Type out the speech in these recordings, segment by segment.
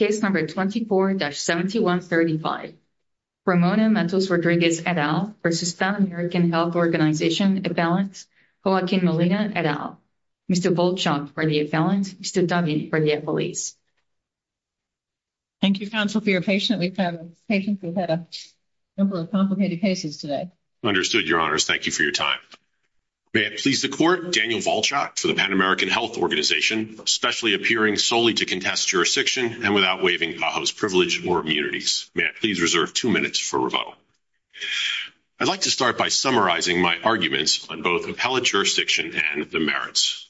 Appellant Joaquin Molina et al. Mr. Volchok for the appellant, Mr. Dummy for the appellate. Thank you counsel for your patience. We've had a number of complicated cases today. Understood, your honors. Thank you for your time. May it please the court, Daniel Volchok for the Pan American Health Organization, especially appearing solely to contest jurisdiction and without waiving PAHO's privilege or immunities. May it please reserve two minutes for revote. I'd like to start by summarizing my arguments on both appellate jurisdiction and the merits.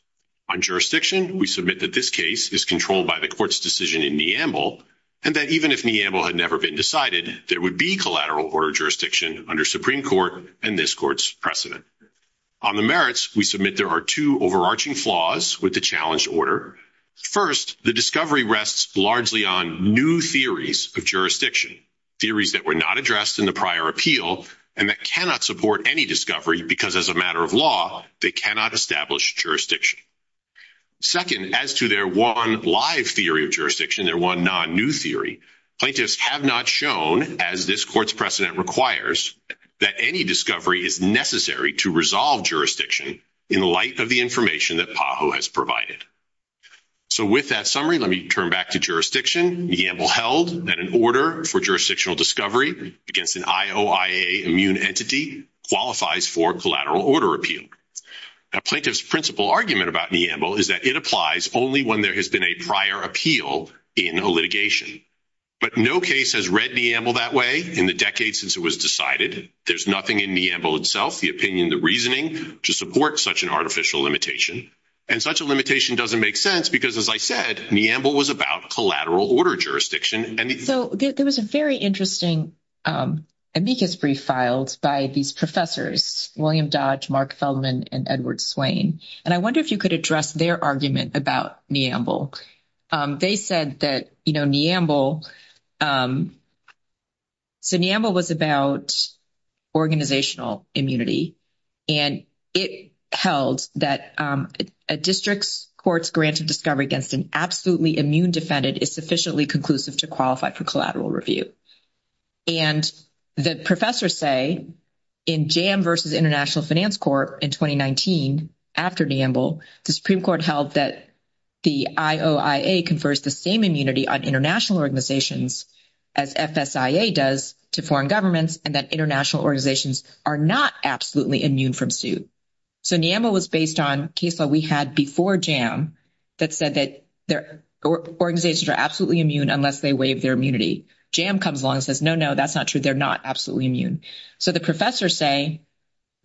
On jurisdiction, we submit that this case is controlled by the court's decision in Neamble and that even if Neamble had never been decided, there would be collateral order jurisdiction under Supreme Court and this court's precedent. On the merits, we submit there are two overarching flaws with the challenge order. First, the discovery rests largely on new theories of jurisdiction, theories that were not addressed in the prior appeal and that cannot support any discovery because as a matter of law, they cannot establish jurisdiction. Second, as to their one live theory of jurisdiction, their one non-new theory, plaintiffs have not shown as this court's that any discovery is necessary to resolve jurisdiction in the light of the information that PAHO has provided. So with that summary, let me turn back to jurisdiction. Neamble held that an order for jurisdictional discovery against an IOIA immune entity qualifies for collateral order appeal. A plaintiff's principal argument about Neamble is that it applies only when there has been a prior appeal in a litigation. But no case has read Neamble that way in the decades since it was decided. There's nothing in Neamble itself, the opinion, the reasoning to support such an artificial limitation. And such a limitation doesn't make sense because as I said, Neamble was about collateral order jurisdiction. So there was a very interesting amicus brief filed by these professors, William Dodge, Mark Feldman, and Edward Swain. And I wonder if you could address their argument about Neamble. They said that, you know, Neamble, so Neamble was about organizational immunity. And it held that a district's court's granted discovery against an absolutely immune defendant is sufficiently conclusive to qualify for collateral review. And the professors say in J.M. versus International Finance Court in 2019, after Neamble, the Supreme Court held that the IOIA confers the same immunity on international organizations as FSIA does to foreign governments and that international organizations are not absolutely immune from suits. So Neamble was based on a case that we had before J.M. that said that organizations are absolutely immune unless they waive their immunity. J.M. comes along and says, no, no, that's not true. They're not absolutely immune. So the professors say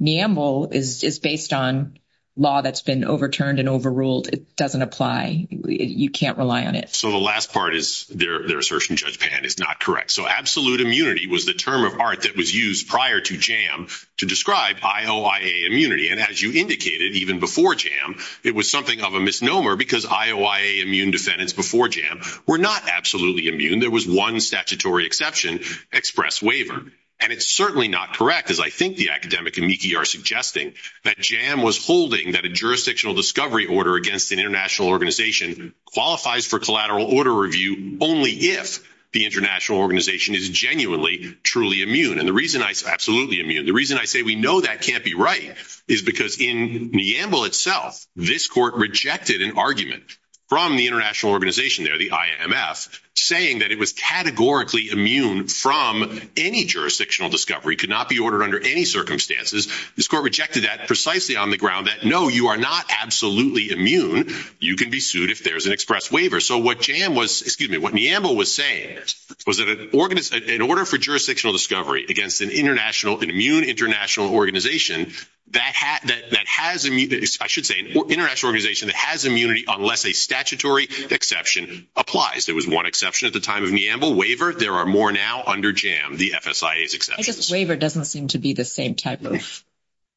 Neamble is based on law that's been overturned and overruled. It doesn't apply. You can't rely on it. So the last part is their assertion, Judge Pan, is not correct. So absolute immunity was the term of art that was used prior to J.M. to describe IOIA immunity. And as you indicated, even before J.M., it was something of a misnomer because IOIA immune defendants before J.M. were not absolutely immune. There was one statutory exception, express waiver. And it's certainly not correct, as I think the academic and Niki are suggesting, that J.M. was holding that a jurisdictional discovery order against an international organization qualifies for collateral order review only if the international organization is genuinely, truly immune. And the reason I say absolutely immune, the reason I say we know that can't be right is because in Neamble itself, this court rejected an argument from the international organization there, the IMF, saying that it was categorically immune from any jurisdictional discovery, could not be ordered under any circumstances. This court rejected that precisely on the ground that, no, you are not absolutely immune. You can be sued if there's an express waiver. So what J.M. was, excuse me, what Neamble was saying is, was that in order for jurisdictional discovery against an international, an immune international organization that has, I should say, an international organization that has immunity unless a statutory exception applies. There was one exception at the time of Neamble waiver. There are more now under J.M., the FSIA's exception. I guess waiver doesn't seem to be the same type of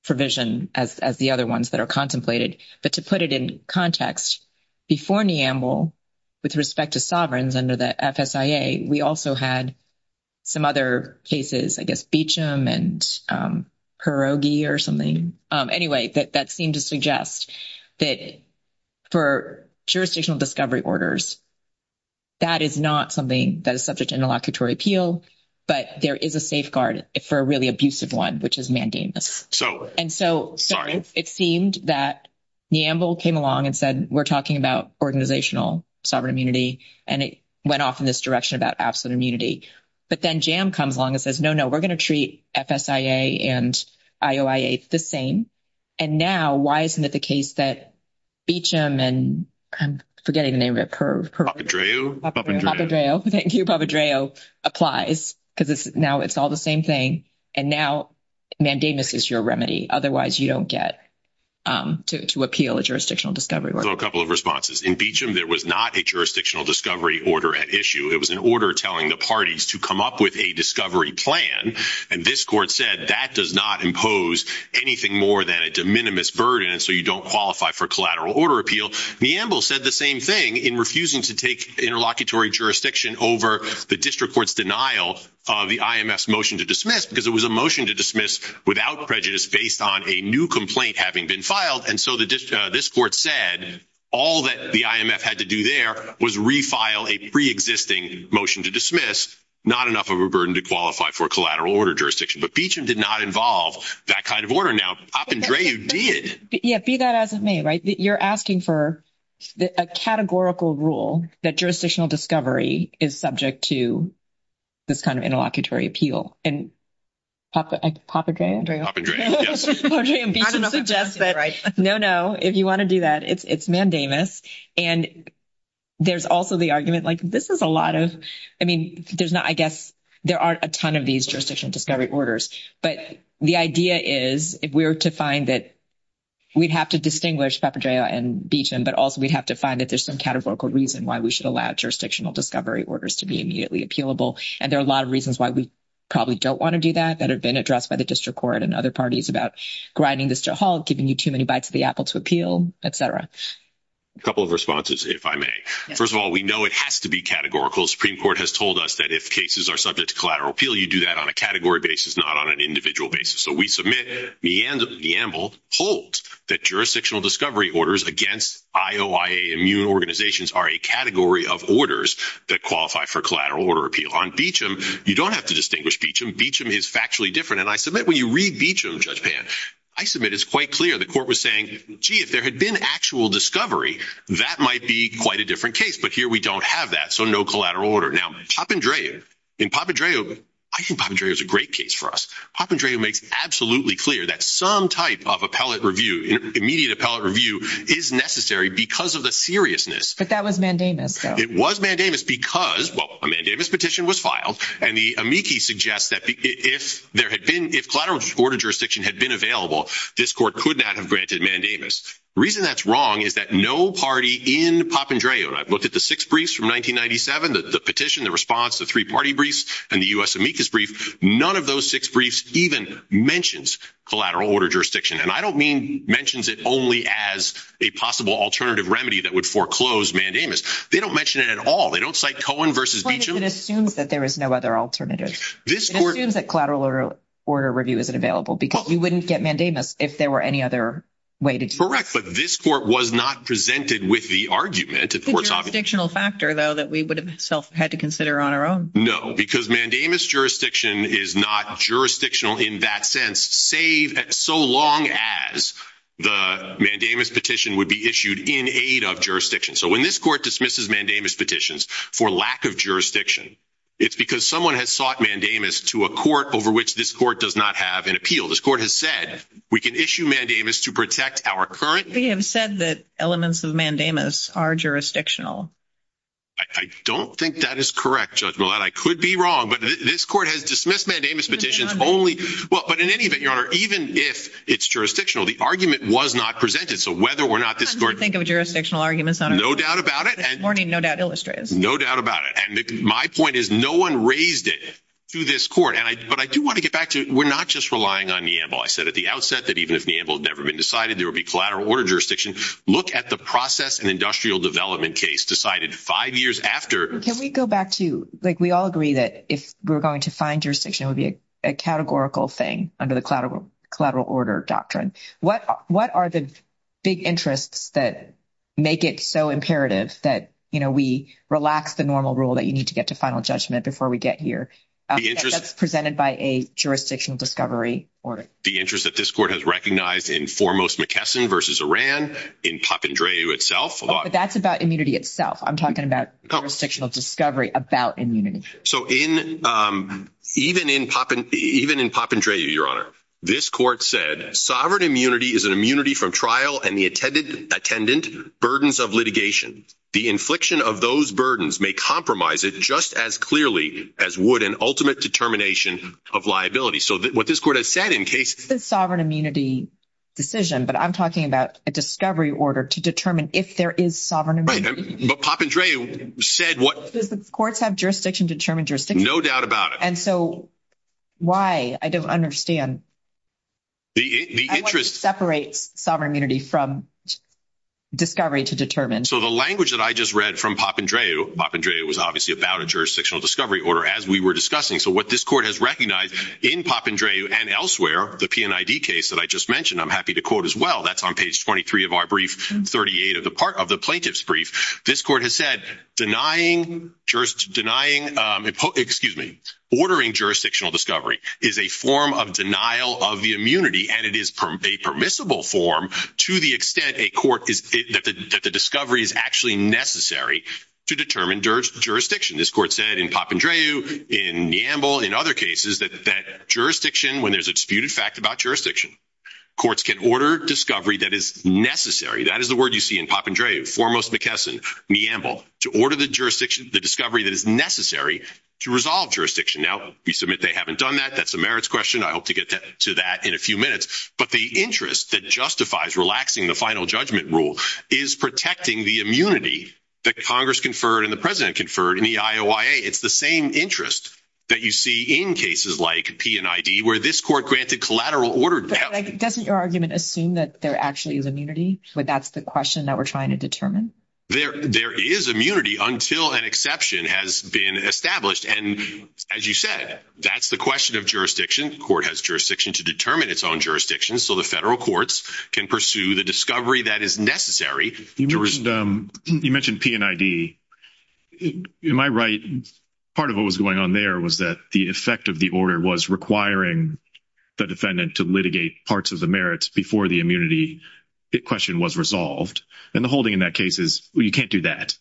provision as the other ones that are contemplated. But to put it in context, before Neamble, with respect to sovereigns under the FSIA, we also had some other cases, I guess Beecham and Hirogi or something, anyway, that seemed to suggest that for jurisdictional discovery orders, that is not something that is subject to interlocutory appeal, but there is a safeguard for a really abusive one, which is mandamus. And so it seemed that Neamble came along and said, we're talking about organizational sovereign immunity, and it went off in this direction about absolute immunity. But then J.M. comes along and says, no, no, we're going to treat FSIA and IOIA the same. And now, why isn't it the case that Beecham and, I'm forgetting the name of the curve. Papadreou? Papadreou, thank you. Papadreou applies because now it's all the same thing. And now mandamus is your remedy. Otherwise, you don't get to appeal a jurisdictional discovery order. A couple of responses. In Beecham, there was not a jurisdictional discovery order at issue. It was an order telling the parties to come up with a discovery plan. And this court said that does not impose anything more than a de minimis burden, so you don't qualify for collateral order appeal. Neamble said the same thing in refusing to take interlocutory jurisdiction over the district court's denial of the IMF's motion to dismiss, because it was a motion to dismiss without prejudice based on a new complaint having been filed. And so this court said all that the IMF had to do there was refile a preexisting motion to dismiss, not enough of a burden to qualify for a collateral order jurisdiction. But Beecham did not involve that kind of order. Now, Papadreou did. Yeah, be that as it may, right? You're asking for a categorical rule that jurisdictional discovery is subject to this kind of interlocutory appeal. And Papadreou? Papadreou, yes. Papadreou and Beecham suggest that, no, no, if you want to do that, it's mandamus. And there's also the argument, like, this is a lot of, I mean, there's not, I guess, there aren't a ton of these jurisdictional discovery orders. But the idea is if we were to find that we'd have to distinguish Papadreou and Beecham, but also we'd have to find that there's some categorical reason why we should allow jurisdictional discovery orders to be immediately appealable. And there are a lot of reasons why we probably don't want to do that, that have been addressed by the district court and other parties about grinding this to a halt, giving you too many bites of the apple to appeal, et cetera. A couple of responses, if I may. First of all, we know it has to be categorical. The Supreme Court has told us that if cases are subject to collateral appeal, you do that on a category basis, not on an individual basis. So we submit that Neanderthal holds that jurisdictional discovery orders against IOIA immune organizations are a category of orders that qualify for collateral order appeal. On Beecham, you don't have to distinguish Beecham. Beecham is factually different. And I submit when you read Beecham, Judge Pan, I submit it's quite clear the court was saying, gee, if there had been actual discovery, that might be quite a different case. But here we don't have that. So no collateral order. Now, Papadreou, I think Papadreou is a great case for us. Papadreou makes absolutely clear that some type of appellate review, immediate appellate review, is necessary because of the seriousness. But that was mandamus, though. It was mandamus because, well, a mandamus petition was filed, and the amici suggest that if there had been, if collateral order jurisdiction had been available, this court could not have granted mandamus. The reason that's wrong is that no party in Papadreou, and I've looked at the six briefs from 1997, the petition, the response, the three-party briefs, and the U.S. amicus brief, none of those six briefs even mentions collateral order jurisdiction. And I don't mean mentions it only as a possible alternative remedy that would foreclose mandamus. They don't mention it at all. They don't cite Cohen versus Beecham. It assumes that there is no other alternative. It assumes that collateral order review isn't available because you wouldn't get mandamus if there were any other way to do it. Correct. But this court was not presented with the argument. It's a jurisdictional factor, though, that we would have had to consider on our own. No, because mandamus jurisdiction is not jurisdictional in that sense, save so long as the mandamus petition would be issued in aid of jurisdiction. So, this court dismisses mandamus petitions for lack of jurisdiction. It's because someone has sought mandamus to a court over which this court does not have an appeal. This court has said we can issue mandamus to protect our current... They have said that elements of mandamus are jurisdictional. I don't think that is correct, Judge Millett. I could be wrong, but this court has dismissed mandamus petitions only... But in any event, Your Honor, even if it's jurisdictional, the argument was not presented. So, whether or not this court... I'm trying to think of a warning no doubt illustrates. No doubt about it. And my point is no one raised it to this court. But I do want to get back to, we're not just relying on Neambul. I said at the outset that even if Neambul had never been decided, there would be collateral order jurisdiction. Look at the process and industrial development case decided five years after... Can we go back to, like, we all agree that if we're going to find jurisdiction, it would be a categorical thing under the collateral order doctrine. What are the big interests that make it so imperative that we relax the normal rule that you need to get to final judgment before we get here? That's presented by a jurisdictional discovery order. The interest that this court has recognized in foremost McKesson versus Iran, in Papandreou itself. That's about immunity itself. I'm talking about jurisdictional discovery about immunity. So, even in Papandreou, Your Honor, this court said, sovereign immunity is an immunity from trial and the attendant burdens of litigation. The infliction of those burdens may compromise it just as clearly as would an ultimate determination of liability. So, what this court has said in case... It's a sovereign immunity decision, but I'm talking about a discovery order to determine if there is sovereign immunity. But Papandreou said what... Does the courts have jurisdiction to determine jurisdiction? No doubt about it. And so, why? I don't understand. Separate sovereign immunity from discovery to determine. So, the language that I just read from Papandreou, Papandreou was obviously about a jurisdictional discovery order as we were discussing. So, what this court has recognized in Papandreou and elsewhere, the PNID case that I just mentioned, I'm happy to quote as well. That's on page 23 of our brief, 38 of the plaintiff's brief. This court has said, ordering jurisdictional discovery is a form of denial of the immunity, and it is a permissible form to the extent that the discovery is actually necessary to determine jurisdiction. This court said in Papandreou, in Neambul, in other cases, that jurisdiction, when there's a disputed fact about jurisdiction, courts can order discovery that is necessary. That is the word you see in Papandreou, foremost McKesson, Neambul, to order the discovery that is necessary to resolve jurisdiction. Now, we submit they haven't done that. That's a merits question. I hope to get to that in a few minutes. But the interest that justifies relaxing the final judgment rule is protecting the immunity that Congress conferred and the President conferred in the IOIA. It's the same interest that you see in cases like PNID, where this court granted collateral order. But doesn't your argument assume that there actually is immunity? That's the question that we're trying to determine? There is immunity until an exception has been established. And as you said, that's the question of jurisdiction. The court has jurisdiction to determine its own jurisdiction, so the federal courts can pursue the discovery that is necessary. You mentioned PNID. Am I right? Part of what was going on there was that the effect of the order was requiring the defendant to litigate parts of the merits before the immunity question was resolved. And the holding in that case is, well, you can't do that.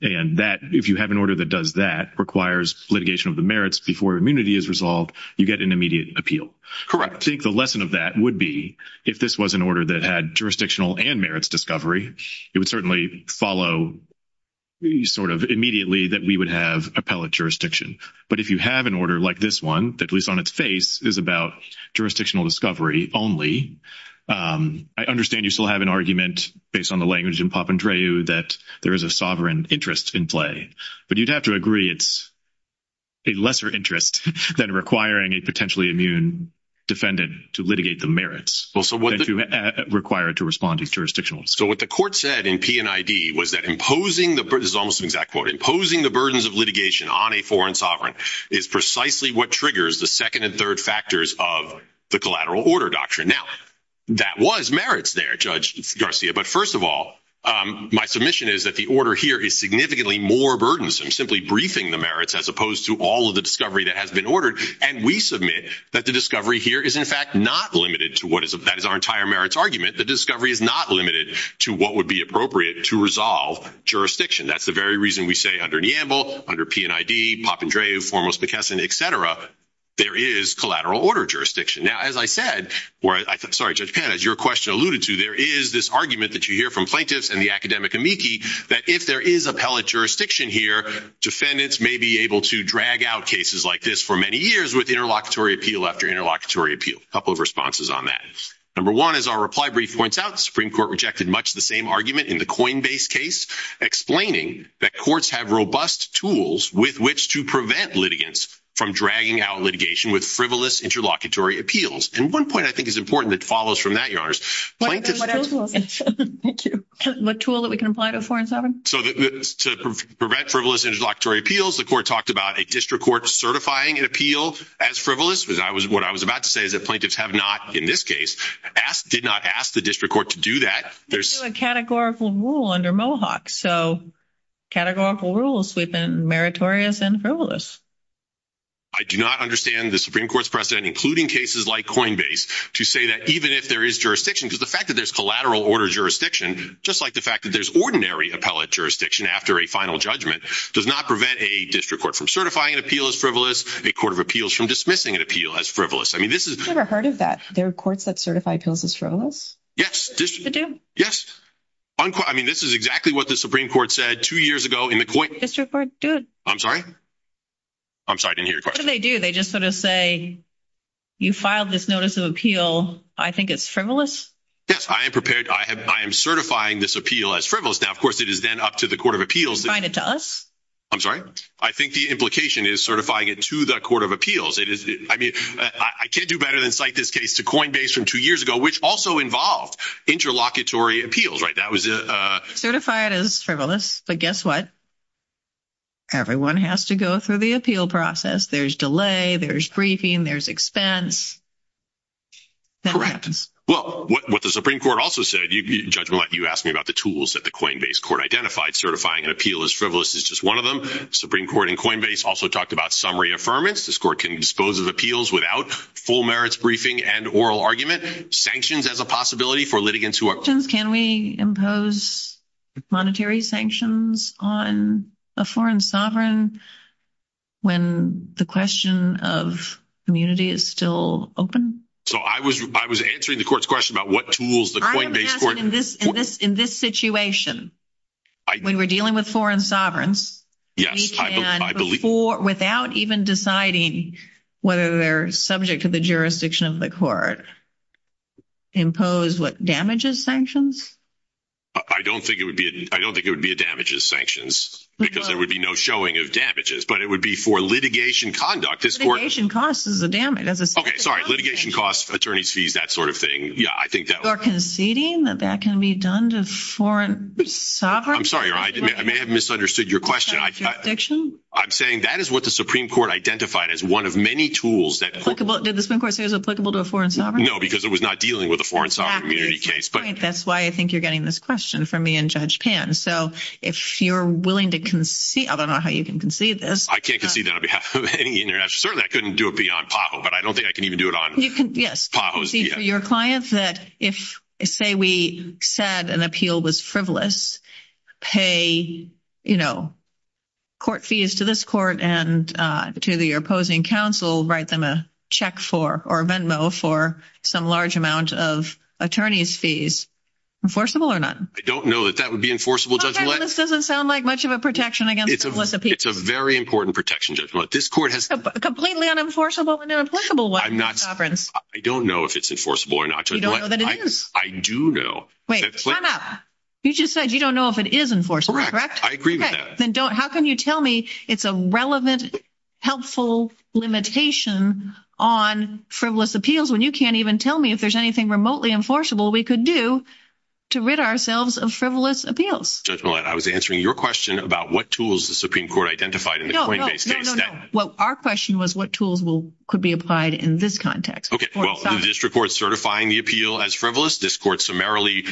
And that, if you have an order that does that, requires litigation of the merits before immunity is resolved, you get an immediate appeal. Correct. I think the lesson of that would be, if this was an order that had jurisdictional and merits discovery, it would certainly follow sort of immediately that we would have appellate jurisdiction. But if you have an order like this one, that at least on its face is about jurisdictional discovery only, I understand you still have an argument based on the language that there is a sovereign interest in play. But you'd have to agree it's a lesser interest than requiring a potentially immune defendant to litigate the merits. What the court said in PNID was that imposing the burdens of litigation on a foreign sovereign is precisely what triggers the second and third factors of the collateral order doctrine. Now, that was merits there, Judge Garcia. But first of all, my submission is that the order here is significantly more burdensome, simply briefing the merits as opposed to all of the discovery that has been ordered. And we submit that the discovery here is, in fact, not limited to what is, that is our entire merits argument, the discovery is not limited to what would be appropriate to resolve jurisdiction. That's the very reason we say under Neambul, under PNID, Poppendrae, Formos-McKesson, et cetera, there is collateral order jurisdiction. Now, as I said, or I'm sorry, Judge Pan, as your question alluded to, there is this argument that you hear from plaintiffs and the academic amici that if there is appellate jurisdiction here, defendants may be able to drag out cases like this for many years with interlocutory appeal after interlocutory appeal. A couple of responses on that. Number one, as our reply brief points out, the Supreme Court rejected much the same argument in the Coinbase case, explaining that courts have robust tools with which to prevent litigants from dragging out litigation with frivolous interlocutory appeals. And one point I think is important that follows from that, Yars. Yars, thank you. What tool that we can apply to 4 and 7? So to prevent frivolous interlocutory appeals, the court talked about a district court certifying an appeal as frivolous. What I was about to say is that plaintiffs have not, in this case, did not ask the district court to do that. There's a categorical rule under Mohawk. So categorical rules have been meritorious and frivolous. I do not understand the Supreme Court's precedent, including cases like Coinbase, to say that even if there is jurisdiction, because the fact that there's collateral order jurisdiction, just like the fact that there's ordinary appellate jurisdiction after a final judgment, does not prevent a district court from certifying an appeal as frivolous, a court of appeals from dismissing an appeal as frivolous. I mean, this is- I've never heard of that. There are courts that certify appeals as frivolous? Yes. Yes. I mean, this is exactly what the Supreme Court said two years ago in the coin- District court, do it. I'm sorry? I'm sorry. I didn't hear your question. They do. They just sort of say, you filed this notice of appeal. I think it's frivolous. Yes. I am prepared. I am certifying this appeal as frivolous. Now, of course, it is then up to the court of appeals to- Find it to us? I'm sorry? I think the implication is certifying it to the court of appeals. It is- I mean, I can't do better than cite this case to Coinbase from two years ago, which also involved interlocutory appeals, right? That was- Frivolous, but guess what? Everyone has to go through the appeal process. There's delay, there's briefing, there's expense. Correct. Well, what the Supreme Court also said, you asked me about the tools that the Coinbase court identified certifying an appeal as frivolous. It's just one of them. Supreme Court in Coinbase also talked about summary affirmance. This court can dispose of appeals without full merits briefing and oral argument. Sanctions as a possibility for litigants who are- Can we impose monetary sanctions on a foreign sovereign when the question of immunity is still open? So I was answering the court's question about what tools the Coinbase court- In this situation, when we're dealing with foreign sovereigns- Yes, I believe- Without even deciding whether they're subject to the jurisdiction of the court, do we impose what? Damages sanctions? I don't think it would be a damages sanctions because there would be no showing of damages, but it would be for litigation conduct. This court- Litigation costs is a damage. That's a- Okay, sorry. Litigation costs, attorney's fees, that sort of thing. Yeah, I think that- Or conceding that that can be done to a foreign sovereign? I'm sorry. I may have misunderstood your question. I'm saying that is what the Supreme Court identified as one of many tools that- Did the Supreme Court say it was applicable to a foreign sovereign? No, because it was not dealing with a foreign sovereign immunity case, but- That's why I think you're getting this question from me and Judge Pan. So if you're willing to concede- I don't know how you can concede this. I can't concede that on behalf of any international- Certainly, I couldn't do it beyond PAHO, but I don't think I can even do it on PAHO's behalf. Yes, concede to your clients that if, say, we said an appeal was frivolous, pay court fees to this court and to the opposing counsel, write them a check for, or a venmo for some large amount of attorney's fees. Enforceable or not? I don't know that that would be enforceable, Judge Millett. This doesn't sound like much of a protection against illicit people. It's a very important protection, Judge Millett. This court has- Completely unenforceable and unenforceable- I don't know if it's enforceable or not, Judge Millett. You don't know that it is? I do know that- Wait, time out. You just said you don't know if it is enforceable, correct? I agree with that. How can you tell me it's a relevant, helpful limitation on frivolous appeals when you can't even tell me if there's anything remotely enforceable we could do to rid ourselves of frivolous appeals? Judge Millett, I was answering your question about what tools the Supreme Court identified in the Coinbase case. Our question was what tools could be applied in this context. Okay, well, the district court certifying the appeal as frivolous, this court summarily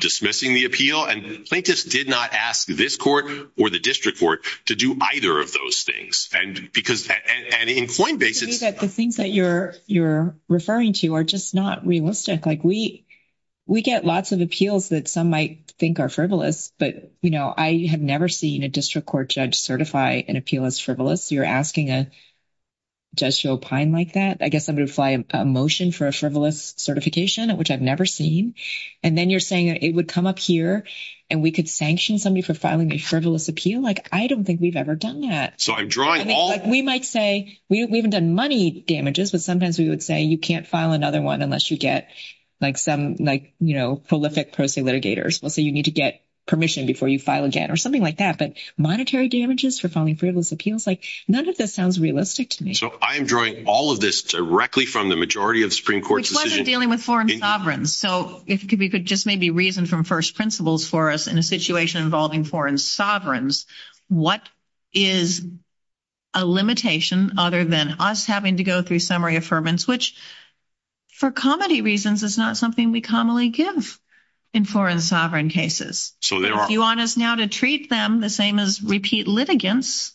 dismissing the appeal, and plaintiffs did not ask this court or the district court to do either of those things. In Coinbase- To me, the things that you're referring to are just not realistic. We get lots of appeals that some might think are frivolous, but I have never seen a district court judge certify an appeal as frivolous. You're asking a judge to opine like that. I guess I'm going to apply a motion for a frivolous certification, which I've never seen. Then you're saying it would come up here and we could sanction somebody for filing a frivolous appeal. I don't think we've ever done that. We might say we haven't done money damages, but sometimes we would say you can't file another one unless you get some prolific person litigators. Let's say you need to get permission before you file again or something like that, but monetary damages for filing frivolous appeals? None of this sounds realistic to me. So I am drawing all of this directly from the majority of Supreme Court decisions- If we could just maybe reason from first principles for us in a situation involving foreign sovereigns, what is a limitation other than us having to go through summary affirmance, which for comedy reasons is not something we commonly give in foreign sovereign cases? If you want us now to treat them the same as repeat litigants,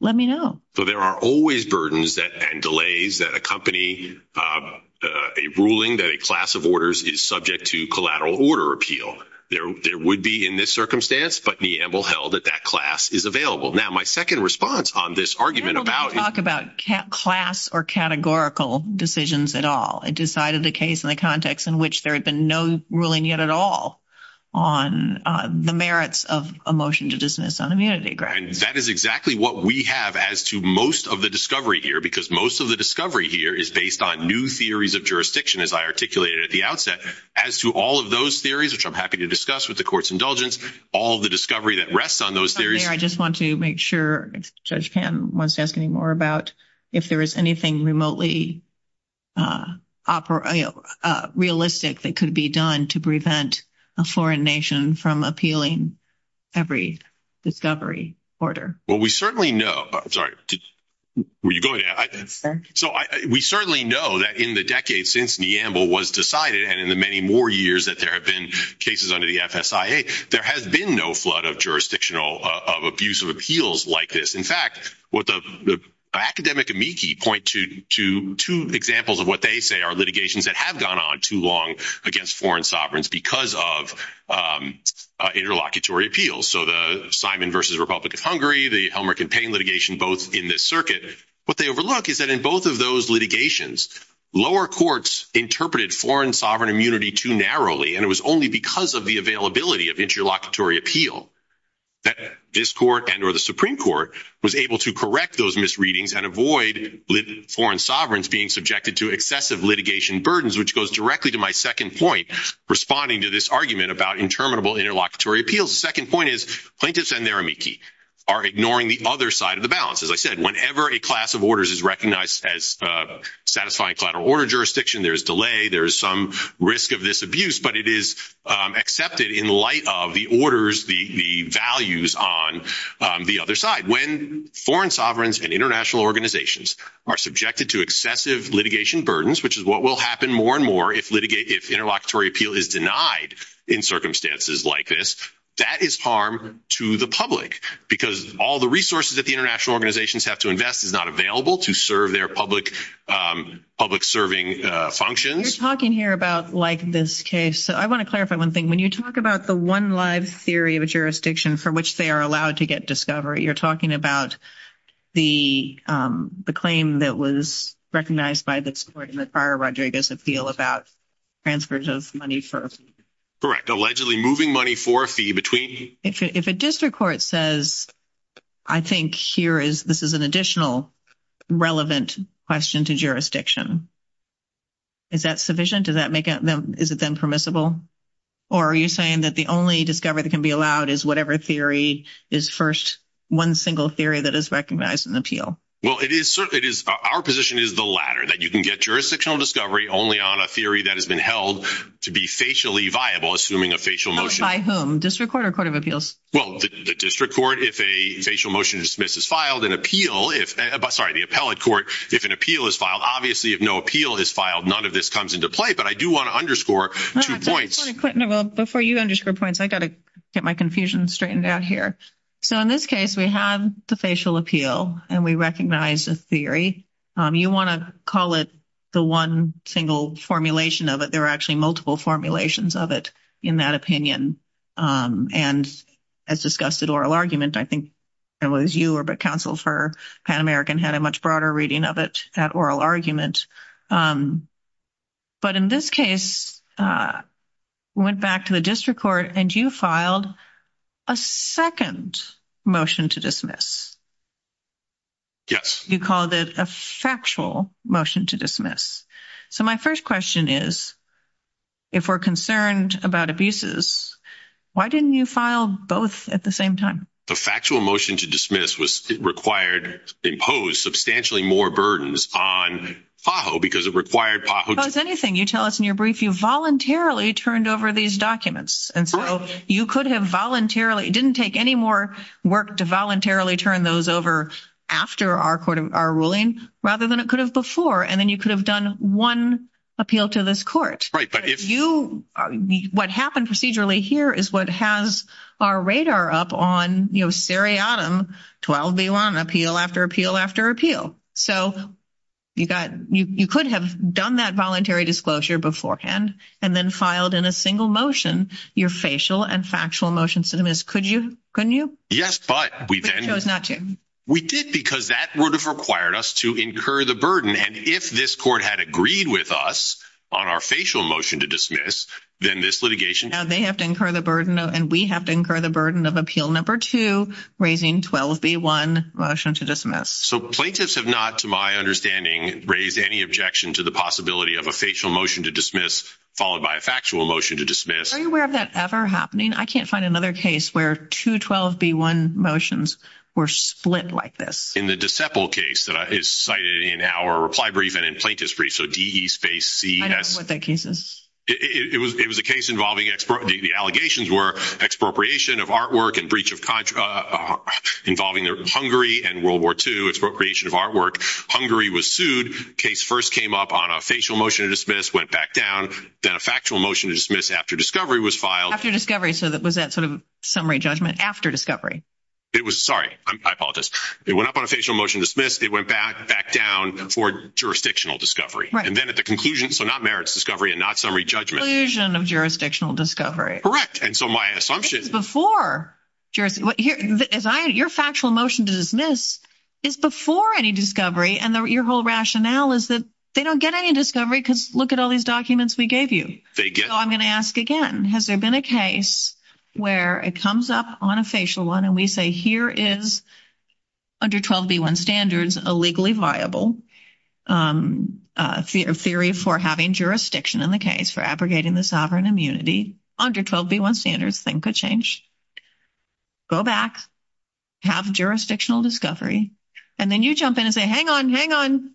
let me know. So there are always burdens and delays that accompany a ruling that a class of orders is subject to collateral order appeal. There would be in this circumstance, but Neill held that that class is available. Now, my second response on this argument about- I don't want to talk about class or categorical decisions at all. It decided the case in the context in which there had been no ruling yet at all on the merits of a motion to dismiss on immunity grounds. And that is exactly what we have as to most of the discovery here, because most of the discovery here is based on new theories of jurisdiction, as I articulated at the outset. As to all of those theories, which I'm happy to discuss with the court's indulgence, all of the discovery that rests on those theories- I just want to make sure if Judge Panton wants to ask any more about if there is anything remotely realistic that could be done to prevent a foreign nation from appealing every discovery order. Well, we certainly know that in the decades since Neambul was decided, and in the many more years that there have been cases under the FSIA, there has been no flood of jurisdictional- of abuse of appeals like this. In fact, what the academic amici point to two examples of what they say are litigations that have gone on too long against foreign sovereigns because of interlocutory appeals. So the Simon versus Republican Hungary, the Helmer campaign litigation, both in this circuit. What they overlook is that in both of those litigations, lower courts interpreted foreign sovereign immunity too narrowly, and it was only because of the availability of interlocutory appeal that this court and or the Supreme Court was able to correct those misreadings and avoid foreign sovereigns being subjected to excessive litigation burdens, which goes directly to my second point responding to this argument about interminable interlocutory appeals. The second point is plaintiffs and their amici are ignoring the other side of the balance. As I said, whenever a class of orders is recognized as satisfying collateral order jurisdiction, there's delay, there's some risk of this abuse, but it is accepted in light of the orders, the values on the other side. When foreign sovereigns and international organizations are subjected to excessive litigation burdens, which is what will happen more and more if interlocutory appeal is denied in circumstances like this, that is harm to the public because all the resources that the international organizations have to invest is not available to serve their public serving functions. You're talking here about like this case, so I want to clarify one thing. When you talk about the one life theory of a jurisdiction for which they are allowed to get discovery, you're talking about the claim that was recognized by this court in the Farrar-Rodriguez appeal about transfers of money for a fee. Correct. Allegedly moving money for a fee between... If a district court says, I think here is, this is an additional relevant question to jurisdiction, is that sufficient? Does that make it, is it then permissible? Or are you saying that the only discovery that can be allowed is whatever theory is first, one single theory that is recognized in the appeal? Well, it is, our position is the latter, that you can get jurisdictional discovery only on a theory that has been held to be facially viable, assuming a facial motion. By whom? District court or court of appeals? Well, the district court, if a facial motion is dismissed is filed, an appeal, sorry, the appellate court, if an appeal is filed, obviously if no appeal is filed, none of this comes into play, but I do want to underscore two points. Before you underscore points, I got to get my confusion straightened out here. So in this case, we have the facial appeal and we recognize the theory. You want to call it the one single formulation of it. There are actually multiple formulations of it in that opinion. And as discussed at oral argument, I think it was you or the counsel for Pan-American had a much broader reading of it at oral argument. But in this case, went back to the district court and you filed a second motion to dismiss. Yes. You called it a factual motion to dismiss. So my first question is, if we're concerned about abuses, why didn't you file both at the same time? The factual motion to dismiss was required, imposed substantially more burdens on PAHO because it required PAHO. Well, it's anything you tell us in your brief, you voluntarily turned over these documents. And so you could have voluntarily, it didn't take any more work to voluntarily turn those over after our court, our ruling rather than it could have before. And then you could have done one appeal to this court. Right. But if you, what happened procedurally here is what has our radar up on, you know, seriatim 12B1, appeal after appeal, after appeal. So you got, you could have done that voluntary disclosure beforehand and then filed in a single motion, your facial and factual motion to dismiss. Could you, couldn't you? Yes, but we did because that would have required us to incur the burden. And if this court had agreed with us on our facial motion to dismiss, then this litigation. Now they have to incur the burden and we have to incur the burden of appeal number two, raising 12B1 motion to dismiss. So plaintiffs have not, to my understanding, raised any objection to the possibility of a facial motion to dismiss, followed by a factual motion to dismiss. Are you aware of that ever happening? I can't find another case where two 12B1 motions were split like this. In the DeCepel case that is cited in our reply brief and in plaintiff's brief. So D-E space C-S. I don't know what that case is. It was a case involving, the allegations were expropriation of artwork and breach of contract involving Hungary and World War II, expropriation of artwork. Hungary was sued. Case first came up on a facial motion to dismiss, went back down. Then a factual motion to dismiss after discovery was filed. After discovery. So that was that sort of summary judgment after discovery. It was, sorry, I apologize. It went up on a facial motion to dismiss. It went back, back down for jurisdictional discovery. And then at the conclusion, so not merits discovery and not summary judgment. Conclusion of jurisdictional discovery. Correct. And so my assumption... It's before. Your factual motion to dismiss is before any discovery and your whole rationale is that they don't get any discovery because look at all these documents we gave you. They get... So I'm going to ask again, has there been a case where it comes up on a facial one and we say, here is under 12B1 standards, a legally viable theory for having jurisdiction in the case for abrogating the sovereign immunity under 12B1 standards, thing could change. Go back, have jurisdictional discovery. And then you jump in and say, hang on, hang on.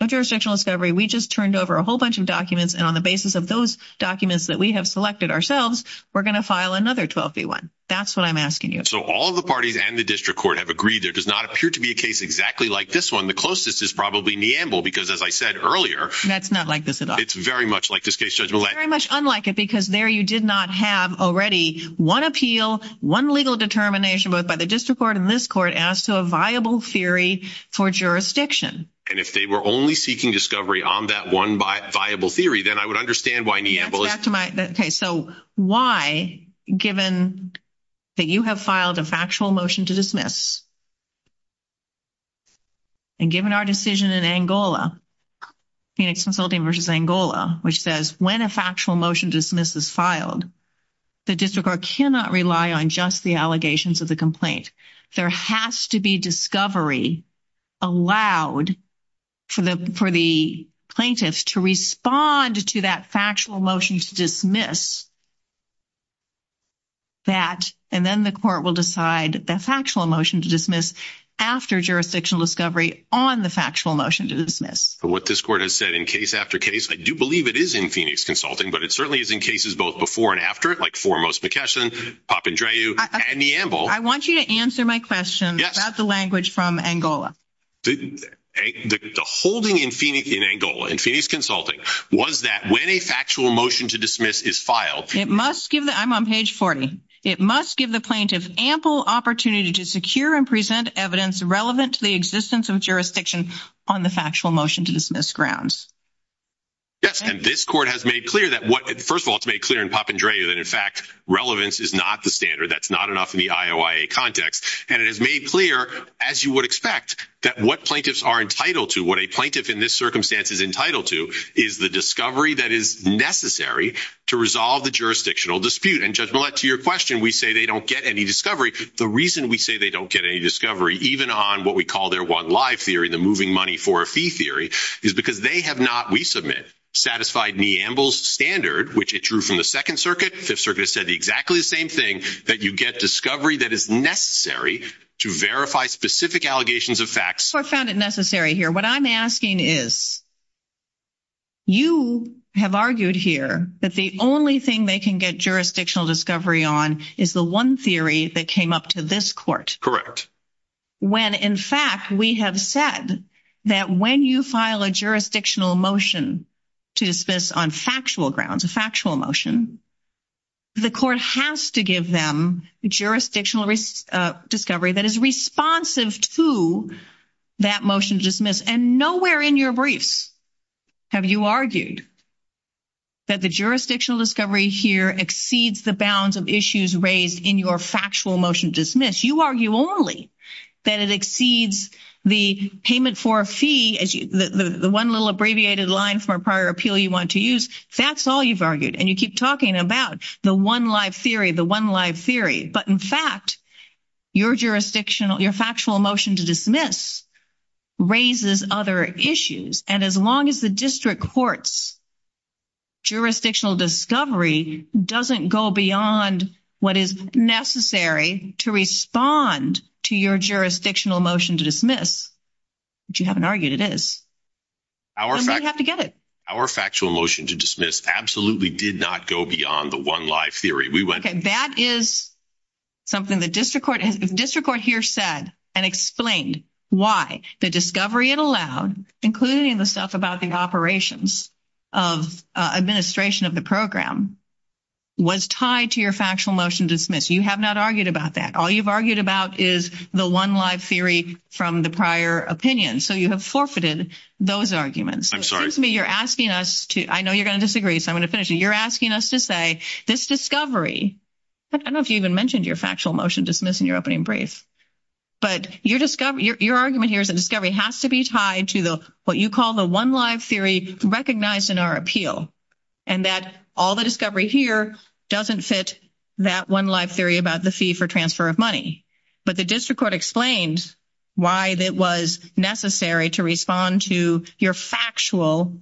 No jurisdictional discovery. We just turned over a whole bunch of documents. And on the basis of those documents that we have selected ourselves, we're going to file another 12B1. That's what I'm asking you. So all of the parties and the district court have agreed there does not appear to be a case exactly like this one. The closest is probably Neamble because as I said earlier... That's not like this at all. It's very much like this case judgment. Very much unlike it because there you did not have already one appeal, one legal determination, both by the district court and this court as to a viable theory for jurisdiction. And if they were only seeking discovery on that one viable theory, then I would understand why Neamble is... That's my... Okay. So why, given that you have filed a factual motion to dismiss and given our decision in Angola, Phoenix Consulting versus Angola, which says when a factual motion dismiss is filed, the district court cannot rely on just the allegations of complaint. There has to be discovery allowed for the plaintiffs to respond to that factual motion to dismiss that, and then the court will decide the factual motion to dismiss after jurisdictional discovery on the factual motion to dismiss. But what this court has said in case after case, I do believe it is in Phoenix Consulting, but it certainly is in cases both before and after it, like foremost McKesson, Papandreou, and Neamble. I want you to answer my question about the language from Angola. The holding in Angola, in Phoenix Consulting, was that when a factual motion to dismiss is filed... It must give... I'm on page 40. It must give the plaintiff ample opportunity to secure and present evidence relevant to the existence of jurisdiction on the factual motion to dismiss grounds. Yes. And this court has made clear that what... First of all, it's made clear in Papandreou that, in fact, relevance is not the standard. That's not enough in the IOIA context. And it has made clear, as you would expect, that what plaintiffs are entitled to, what a plaintiff in this circumstance is entitled to, is the discovery that is necessary to resolve the jurisdictional dispute. And, Judge Millett, to your question, we say they don't get any discovery. The reason we say they don't get any discovery, even on what we call their one live theory, the moving money for a fee theory, is because they have not, we submit, satisfied Neamble's standard, which it drew from the Second Circuit. Fifth Circuit has said the exactly the same thing, that you get discovery that is necessary to verify specific allegations of facts. The court found it necessary here. What I'm asking is, you have argued here that the only thing they can get jurisdictional discovery on is the one theory that came up to this court. Correct. When, in fact, we have said that when you file a jurisdictional motion to dismiss on factual grounds, a factual motion, the court has to give them jurisdictional discovery that is responsive to that motion to dismiss. And nowhere in your briefs have you argued that the jurisdictional discovery here exceeds the bounds of issues raised in your factual motion to dismiss. You argue only that it exceeds the payment for a fee, the one little abbreviated line for a prior appeal you want to use. That's all you've argued. And you keep talking about the one live theory, the one live theory. But in fact, your jurisdictional, your factual motion to dismiss raises other issues. And as long as the district court's jurisdictional discovery doesn't go beyond what is necessary to respond to your jurisdictional motion to dismiss, which you haven't argued it is, they have to get it. Our factual motion to dismiss absolutely did not go beyond the one live theory. That is something the district court here said and explained why the discovery it allowed, including the stuff about the operations of administration of the program, was tied to your factual motion to dismiss. You have not argued about that. All you've argued about is the one live theory from the prior opinion. So you have forfeited those arguments. Excuse me, you're asking us to, I know you're going to disagree, so I'm going to finish it. You're asking us to say this discovery, I don't know if you even mentioned your factual motion dismiss in your opening brief, but your argument here is that discovery has to be tied to the, what you call the one live theory recognized in our appeal. And that all the discovery here doesn't fit that one live theory about the fee for transfer of money. But the district court explained why it was necessary to respond to your factual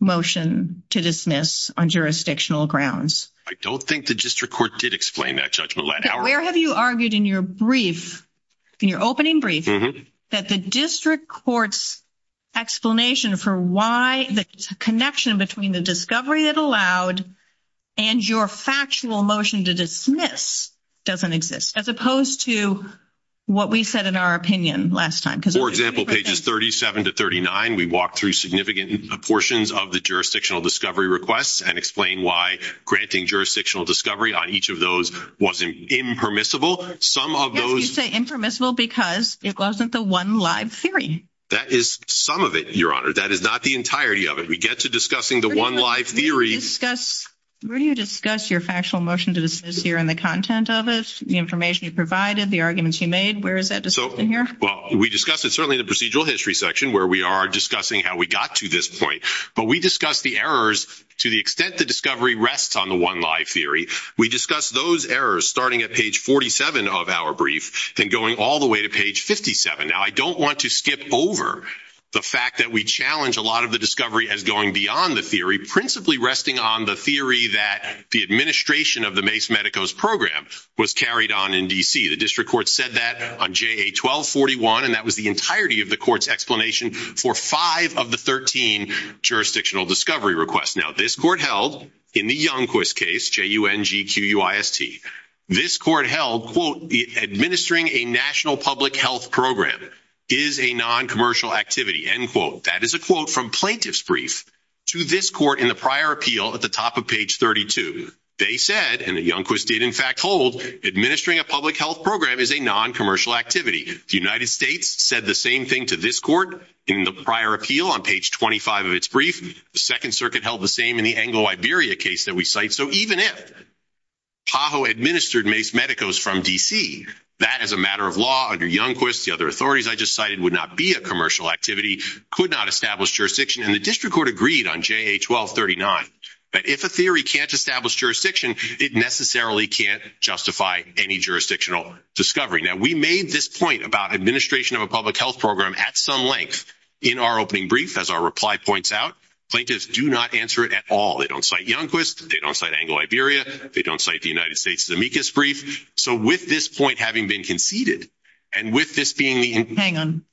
motion to dismiss on jurisdictional grounds. I don't think the district court did explain that, Judge Millett. Where have you argued in your brief, in your opening brief, that the district court's explanation for why the connection between the discovery it allowed and your factual motion to dismiss doesn't exist, as opposed to what we said in our opinion last time? For example, pages 37 to 39, we walked through significant proportions of the jurisdictional discovery requests and explained why granting jurisdictional discovery on each of those was impermissible. Some of those... And you say impermissible because it wasn't the one live theory. That is some of it, Your Honor. That is not the entirety of it. We get to discussing the one live theory... Where do you discuss your factual motion to dismiss here and the content of it, the information you provided, the arguments you made? Where is that discussed in here? Well, we discussed it certainly in the procedural history section, where we are discussing how we got to this point. But we discussed the errors to the extent the discovery rests on the one live theory. We discussed those errors starting at page 47 of our brief and going all the way to page 57. Now, I don't want to skip over the fact that we challenge a lot of the discovery as going beyond the theory, principally resting on the theory that the administration of the Mace-Medicos program was carried on in D.C. The district court said that on JA 1241, and that was the entirety of the court's explanation for five of the 13 jurisdictional discovery requests. Now, this court held in the Youngquist case, J-U-N-G-Q-U-I-S-T, this court held, quote, administering a national public health program is a non-commercial activity, end quote. That is a quote from plaintiff's brief to this court in the prior appeal at the top of page 32. They said, and the Youngquist did in fact hold, administering a public health program is a non-commercial activity. The United States said the same thing to this court in the prior appeal on page 25 of its brief. The Second Circuit held the same in the Anglo-Iberia case that we cite. So even if PAHO administered Mace-Medicos from D.C., that is a matter of law under Youngquist. The other authorities I just cited would not be a commercial activity, could not establish jurisdiction. And the district court agreed on JA 1239 that if a theory can't establish jurisdiction, it necessarily can't justify any jurisdictional discovery. Now, we made this point about administration of a public health program at some length in our opening brief, as our reply points out. Plaintiffs do not answer it at all. They don't cite Youngquist. They don't cite Anglo-Iberia. They don't cite the United States' amicus brief. So with this point having been conceded, and with this being the... Hang on.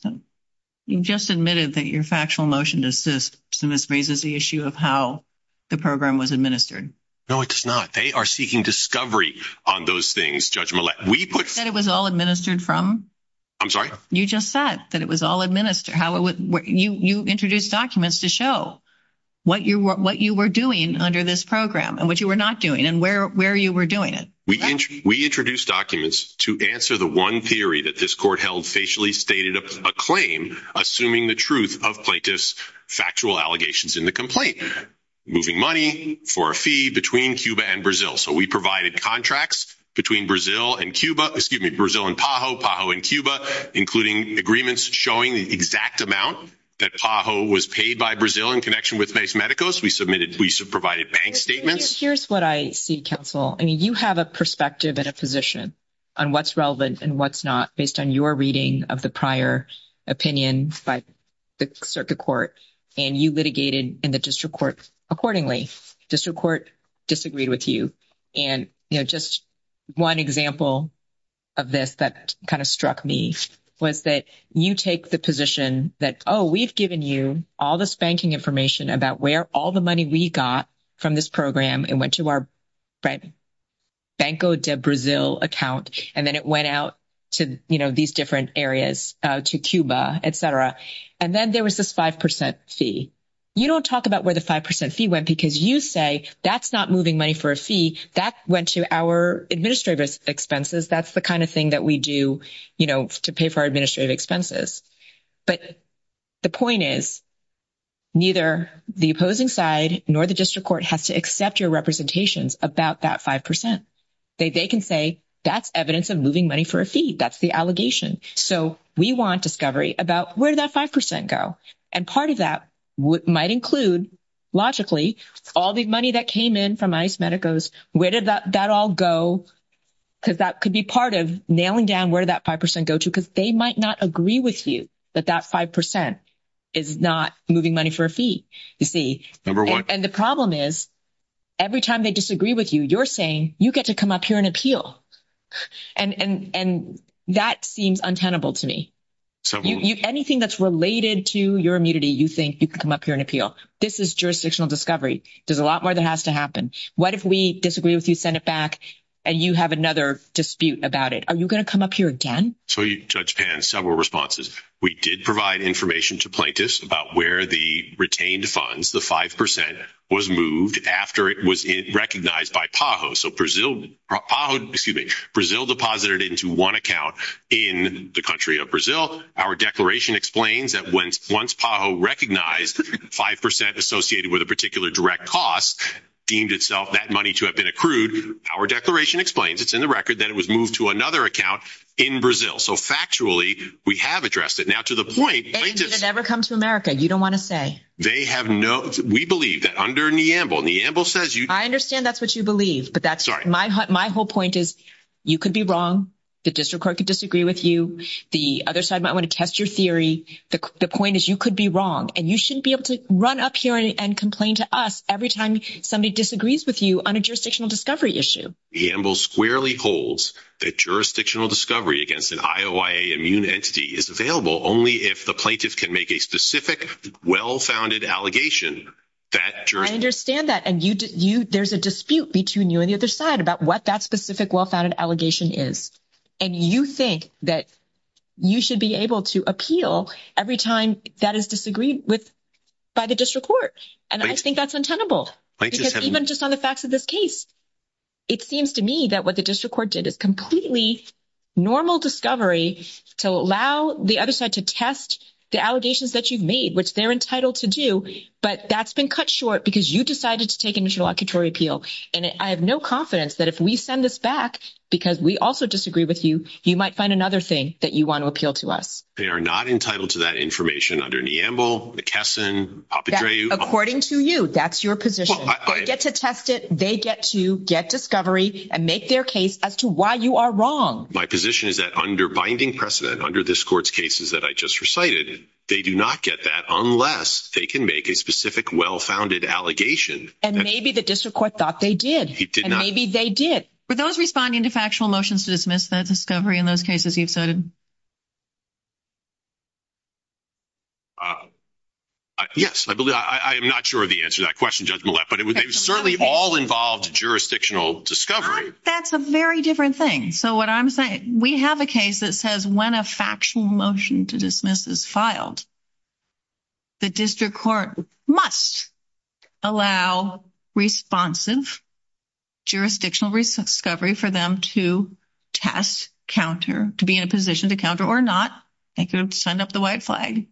You just admitted that your factual motion to assist to this raises the issue of how the program was administered. No, it does not. They are seeking discovery on those things, Judge Millett. We put... You said it was all administered from... I'm sorry? You just said that it was all administered. You introduced documents to show what you were doing under this program, and what you were not doing, and where you were doing it. We introduced documents to answer the one theory that this court held facially stated a claim, assuming the truth of plaintiffs' factual allegations in the complaint. Moving money for a fee between Cuba and Brazil. So we provided contracts between Brazil and Cuba... Excuse me, Brazil and PAHO, PAHO and Cuba, including agreements showing the exact amount that PAHO was paid by Brazil in connection with Mace Medicus. We submitted... We provided bank statements. Here's what I see, counsel. I mean, you have a perspective and a position on what's relevant and what's not based on your reading of the prior opinion by the circuit court, and you litigated in the district court accordingly. District court disagreed with you. And just one example of this that kind of struck me was that you take the position that, oh, we've given you all this banking information about where all the money we got from this program and went to our Banco de Brazil account, and then it went out to these different areas, to Cuba, et cetera. And then there was this 5% fee. You don't talk about where the 5% fee went because you say that's not moving money for a fee. That went to our administrative expenses. That's the kind of thing that we do to pay for our administrative expenses. But the point is, neither the opposing side nor the district court has to accept your representations about that 5%. They can say, that's evidence of moving money for a fee. That's the allegation. So we want discovery about where that 5% go. And part of that might include, logically, all the money that came in from ICE, Medicos, where did that all go? Because that could be part of nailing down where that 5% go to, because they might not agree with you that that 5% is not moving money for a fee, you see. And the problem is, every time they disagree with you, you're saying, you get to come up here and appeal. And that seems untenable to me. Anything that's related to your immunity, you think you can come up here and appeal. This is jurisdictional discovery. There's a lot more that has to happen. What if we disagree with you, send it back, and you have another dispute about it? Are you going to come up here again? So Judge Pan, several responses. We did provide information to plaintiffs about where the retained funds, the 5%, was moved after it was recognized by PAHO. So Brazil deposited into one account in the country of Brazil. Our declaration explains that once PAHO recognized 5% associated with a particular direct cost, deemed itself that money to have been accrued, our declaration explains, it's in the record, that it was moved to another account in Brazil. So factually, we have addressed it. Now, to the point- Thank you, but it never comes to America. You don't want to say. They have no- We believe that under Neambul, Neambul says- I understand that's what you believe, but that's- My whole point is, you could be wrong. The district court could disagree with you. The other side might want to test your theory. The point is, you could be wrong, and you shouldn't be able to run up here and complain to us every time somebody disagrees with you on a jurisdictional discovery issue. Neambul squarely holds that jurisdictional discovery against an IOIA immune entity is available only if the plaintiff can make a specific, well-founded allegation that- I understand that, and there's a dispute between you and the other side about what that specific, well-founded allegation is, and you think that you should be able to appeal every time that is disagreed with by the district court, and I think that's untenable, because even just on the facts of this case, it seems to me that what the district court did, a completely normal discovery to allow the other side to test the allegations that you've made, which they're entitled to do, but that's been cut short because you decided to take an interlocutory appeal, and I have no confidence that if we send this back, because we also disagree with you, you might find another thing that you want to appeal to us. They are not entitled to that information under Neambul, McKesson, Apadreou- According to you. That's your position. They get to test it. They get to get discovery and make their case as to why you are wrong. My position is that under binding precedent, under this court's cases that I just recited, they do not get that unless they can make a specific, well-founded allegation. And maybe the district court thought they did. It did not. And maybe they did. For those responding to factual motions to dismiss that discovery in those cases, you said? Yes, I believe. I am not sure of the answer to that question, Judge Millett, but it certainly all involved jurisdictional discovery. That's a very different thing. So what I'm saying, we have a case that says when a factual motion to dismiss is filed, the district court must allow responsive jurisdictional discovery for them to test, counter, to be in a position to counter or not. They could send up the white flag.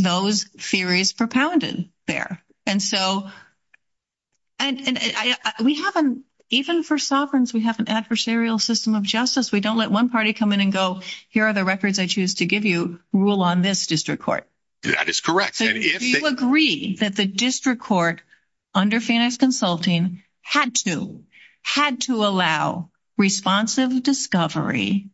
Those theories propounded there. And so we haven't, even for sovereigns, we have an adversarial system of justice. We don't let one party come in and go, here are the records I choose to give you, rule on this district court. That is correct. Do you agree that the district court under FANIX Consulting had to allow responsive discovery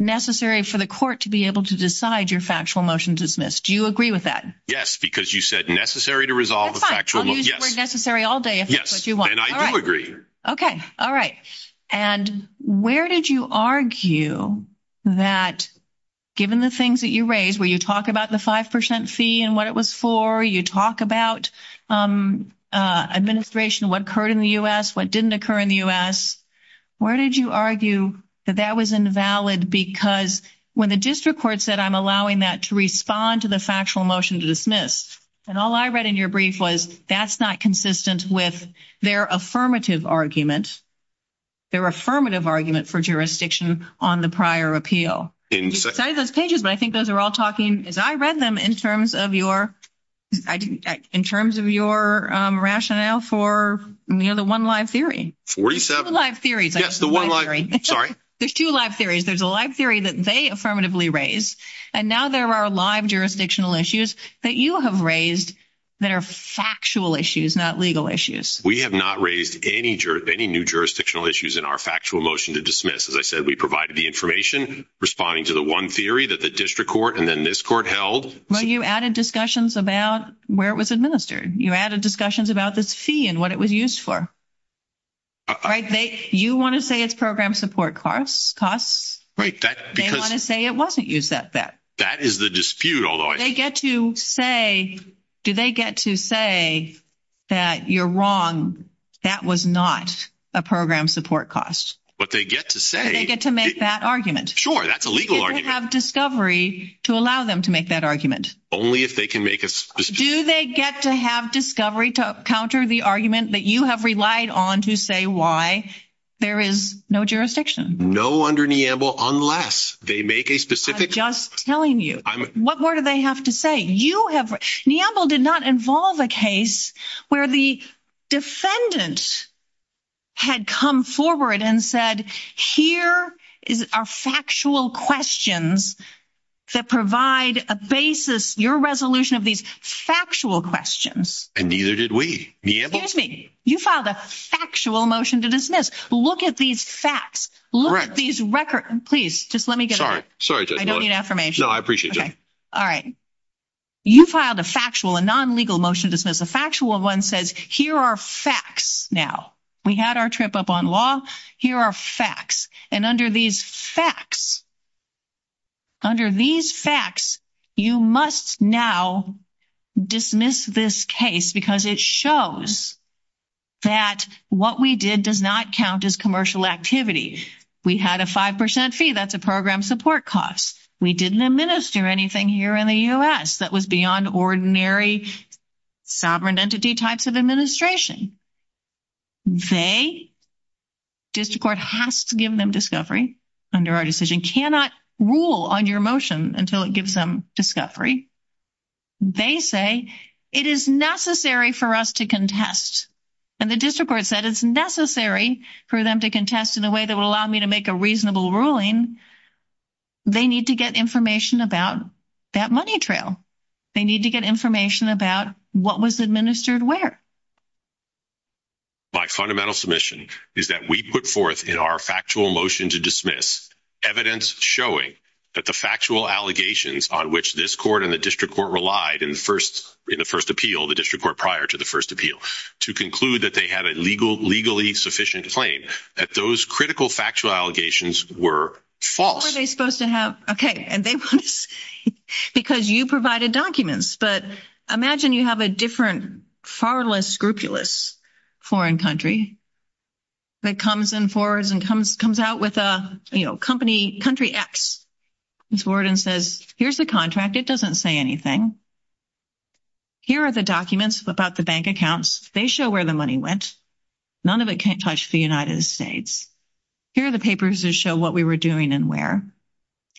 necessary for the court to be able to decide your factual motion to dismiss? Do you agree with that? Yes, because you said necessary to resolve a factual motion. Fine, I'll use the word necessary all day if that's what you want. Yes, and I do agree. Okay. All right. And where did you argue that, given the things that you raised, where you talk about the 5% fee and what it was for, you talk about administration, what occurred in the U.S., what didn't occur in the U.S., where did you argue that that was invalid? Because when the district court said, I'm allowing that to respond to the factual motion to dismiss, and all I read in your brief was that's not consistent with their affirmative argument, their affirmative argument for jurisdiction on the prior appeal. I didn't say that. You cited those pages, but I think those are all talking, as I read them, in terms of your rationale for the one live theory. 47. The live theory. Yes, the one live, sorry. There's two live theories. There's a live theory that they affirmatively raised, and now there are live jurisdictional issues that you have raised that are factual issues, not legal issues. We have not raised any new jurisdictional issues in our factual motion to dismiss. As I said, we provided the information, responding to the one theory that the district court and then this court held. Well, you added discussions about where it was administered. You added discussions about the fee and what it was used for. You want to say it's program support costs. Right. They want to say it wasn't used at that. That is the dispute. Do they get to say that you're wrong, that was not a program support cost? But they get to say... Do they get to make that argument? Sure, that's a legal argument. Do they have discovery to allow them to make that argument? Only if they can make a dispute. Do they get to have discovery to counter the argument that you have relied on to say why there is no jurisdiction? No under Neambul, unless they make a specific... I'm just telling you. What more do they have to say? Neambul did not involve a case where the defendant had come forward and said, here are factual questions that provide a basis, your resolution of these factual questions. And neither did we. You filed a factual motion to dismiss. Look at these facts. These records... Please, just let me get that. Sorry. I don't need affirmation. No, I appreciate that. All right. You filed a factual, a non-legal motion to dismiss. A factual one says, here are facts now. We had our trip up on law. Here are facts. And under these facts, you must now dismiss this case because it shows that what we did does not count as commercial activity. We had a 5% fee. That's a program support cost. We didn't administer anything here in the US that was beyond ordinary sovereign entity types of administration. They... District Court has to give them discovery under our decision. Cannot rule on your motion until it gives them discovery. They say, it is necessary for us to contest. And the District Court said, it's necessary for them to contest in a way that will allow me to make a reasonable ruling. They need to get information about that money trail. They need to get information about what was administered where. My fundamental submission is that we put forth in our factual motion to dismiss evidence showing that the factual allegations on which this court and the District Court relied in the first appeal, the District Court prior to the first appeal, to conclude that they have a legally sufficient claim, that those critical factual allegations were false. Were they supposed to have... Okay. Because you provided documents, but imagine you have a different, far less scrupulous foreign country that comes and forwards and comes out with a company, country X. It's word and says, here's the contract. It doesn't say anything. Here are the documents about the bank accounts. They show where the money went. None of it can touch the United States. Here are the papers that show what we were doing and where.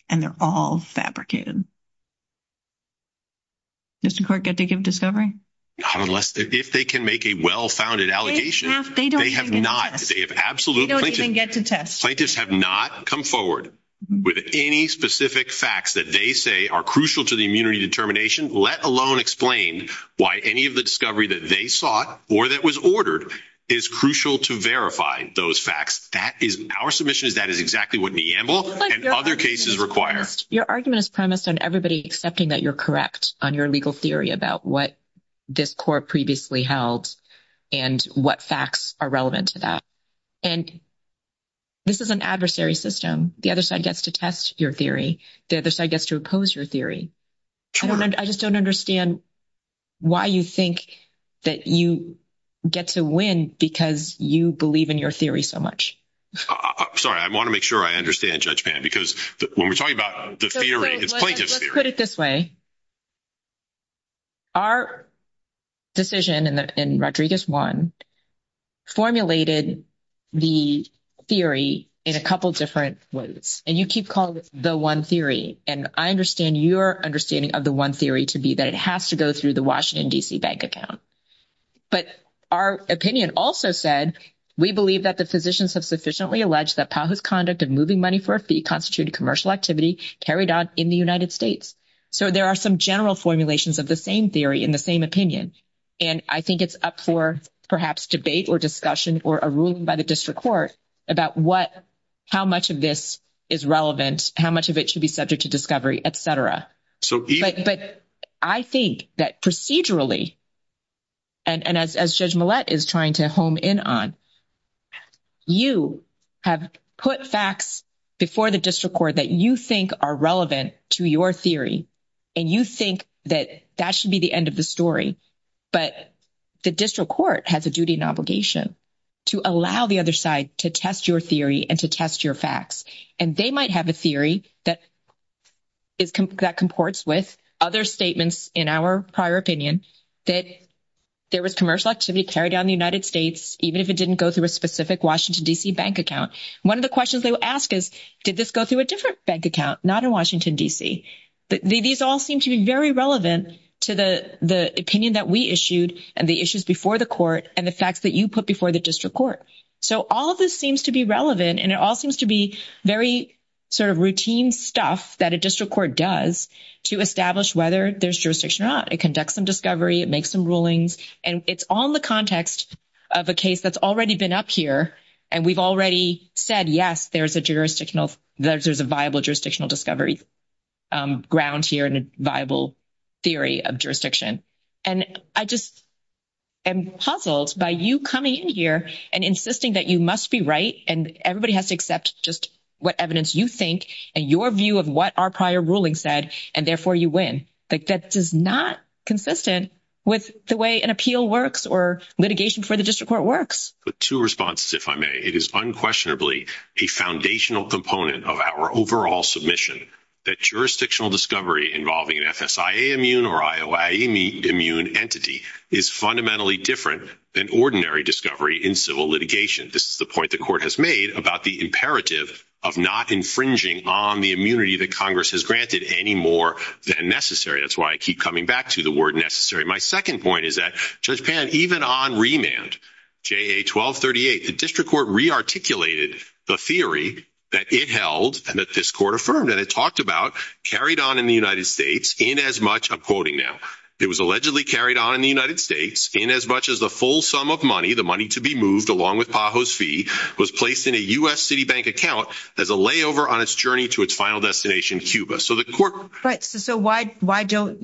And they're all fabricated. District Court, get to give discovery. Unless if they can make a well-founded allegation, they have not. They have absolute... They don't even get to test. Plaintiffs have not come forward with any specific facts that they say are crucial to the immunity determination, let alone explain why any of the discovery that they sought or that was ordered is crucial to verify those facts. That is our submission. That is exactly what Neambul and other cases require. Your argument is premised on everybody accepting that you're correct on your legal theory about what this court previously held and what facts are relevant to that. And this is an adversary system. The other side gets to test your theory. The other side gets to oppose your theory. I just don't understand why you think that you get to win because you believe in your theory so much. I'm sorry. I want to make sure I understand Judge Pan because when we're talking about the theory, it's plaintiff's theory. Put it this way. Our decision in Rodriguez 1 formulated the theory in a couple of different ways. And you keep calling it the one theory. And I understand your understanding of the one theory to be that it has to go through the Washington, D.C., bank account. But our opinion also said, we believe that the physicians have sufficiently alleged that path of conduct of moving money for a fee constituted commercial activity carried out in the United States. So there are some general formulations of the same theory in the same opinion. And I think it's up for perhaps debate or discussion or a ruling by the district court about what, how much of this is relevant, how much of it should be subject to discovery, et cetera. But I think that procedurally, and as Judge Millett is trying to home in on, you have put facts before the district court that you think are relevant to your theory and you think that that should be the end of the story. But the district court has a duty and obligation to allow the other side to test your theory and to test your facts. And they might have a theory that comports with other statements in our prior opinion that there was commercial activity carried out in the United States, even if it didn't go through a specific Washington, D.C., bank account. One of the questions they will ask is, did this go through a different bank account, not in Washington, D.C.? These all seem to be very relevant to the opinion that we issued and the issues before the court and the facts that you put before the district court. So all of this seems to be relevant, and it all seems to be very sort of routine stuff that a district court does to establish whether there's jurisdiction or not. It conducts some discovery, it makes some rulings, and it's all in the context of a And we've already said, yes, there's a viable jurisdictional discovery ground here and a viable theory of jurisdiction. And I just am puzzled by you coming in here and insisting that you must be right and everybody has to accept just what evidence you think and your view of what our prior ruling said, and therefore you win. That is not consistent with the way an appeal works or litigation for the district court works. Two responses, if I may. It is unquestionably a foundational component of our overall submission that jurisdictional discovery involving an FSIA immune or IOI immune entity is fundamentally different than ordinary discovery in civil litigation. This is the point the court has made about the imperative of not infringing on the immunity that Congress has granted any more than necessary. That's why I keep coming back to the word necessary. My second point is that, Judge Pan, even on remand, JA 1238, the district court rearticulated the theory that it held and that this court affirmed and it talked about carried on in the United States in as much, I'm quoting now, it was allegedly carried on in the United States in as much as the full sum of money, the money to be moved along with PAHO's fee, was placed in a U.S. Citibank account as a layover on its journey to its final destination, Cuba. Right. So why don't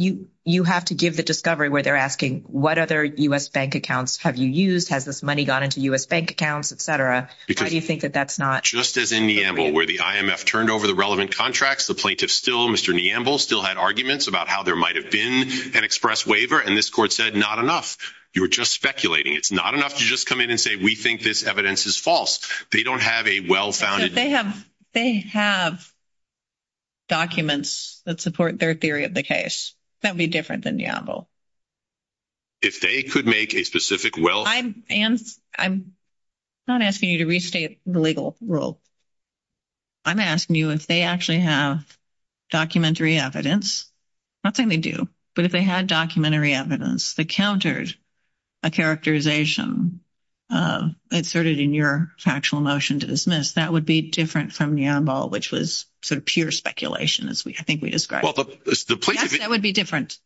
you have to give the discovery where they're asking what other U.S. bank accounts have you used? Has this money gone into U.S. bank accounts, et cetera? How do you think that that's not? Just as in Neambul, where the IMF turned over the relevant contracts, the plaintiff still, Mr. Neambul, still had arguments about how there might have been an express waiver, and this court said not enough. You were just speculating. It's not enough to just come in and say we think this evidence is false. They don't have a well-founded- They have documents that support their theory of the case. That would be different than Neambul. If they could make a specific well- I'm not asking you to restate the legal rule. I'm asking you if they actually have documentary evidence. Not that they do, but if they had documentary evidence that countered a characterization asserted in your factual motion to dismiss, that would be different from Neambul, which was sort of pure speculation, as I think we described. Well, the plaintiff- Yes, that would be different.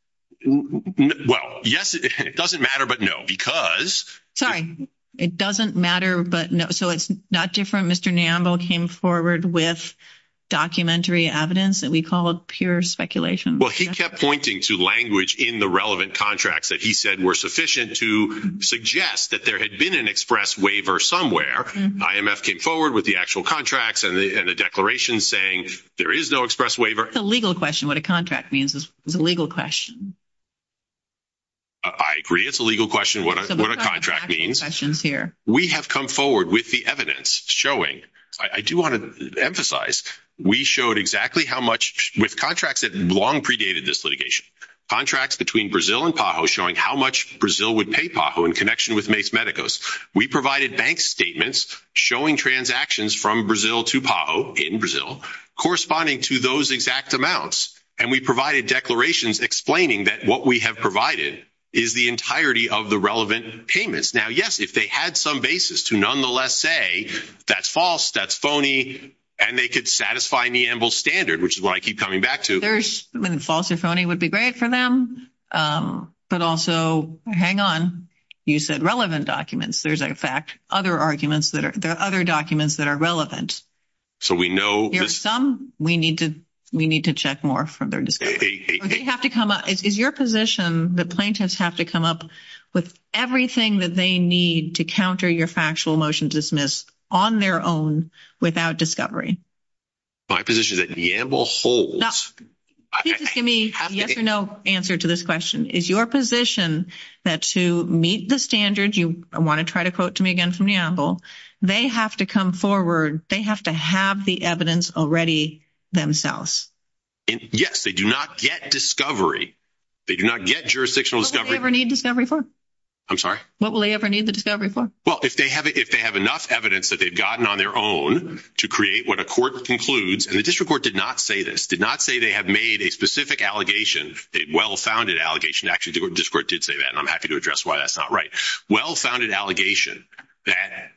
Well, yes, it doesn't matter, but no, because- Sorry. It doesn't matter, but no. So it's not different. Mr. Neambul came forward with documentary evidence that we call pure speculation. Well, he kept pointing to language in the relevant contracts that he said were sufficient to suggest that there had been an express waiver somewhere. IMF came forward with the actual contracts and the declarations saying there is no express waiver. It's a legal question what a contract means. It's a legal question. I agree. It's a legal question what a contract means. We have come forward with the evidence showing- I do want to emphasize, we showed exactly how much- with contracts that long predated this litigation. Contracts between Brazil and PAHO showing how much Brazil would pay PAHO in connection with Mace Medicus. We provided bank statements showing transactions from Brazil to PAHO in Brazil corresponding to those exact amounts, and we provided declarations explaining that what we have provided is the entirety of the relevant payments. Now, yes, if they had some basis to nonetheless say that's false, that's phony, and they could satisfy Neambul's standard, which is what I keep coming back to- false or phony would be great for them. But also, hang on, you said relevant documents. There's, in fact, other arguments that are- there are other documents that are relevant. So we know- There's some we need to check more for their discovery. We have to come up- is your position that plaintiffs have to come up with everything that they need to counter your factual motion dismissed on their own without discovery? My position is that Neambul holds- Now, give me a yes or no answer to this question. Is your position that to meet the standard, you want to try to quote to me again from Neambul, they have to come forward, they have to have the evidence already themselves? Yes, they do not get discovery. They do not get jurisdictional discovery. What will they ever need discovery for? I'm sorry? What will they ever need the discovery for? Well, if they have enough evidence that they've gotten on their own to create what court concludes, and the district court did not say this, did not say they have made a specific allegation, a well-founded allegation. Actually, the district court did say that, and I'm happy to address why that's not right. Well-founded allegation that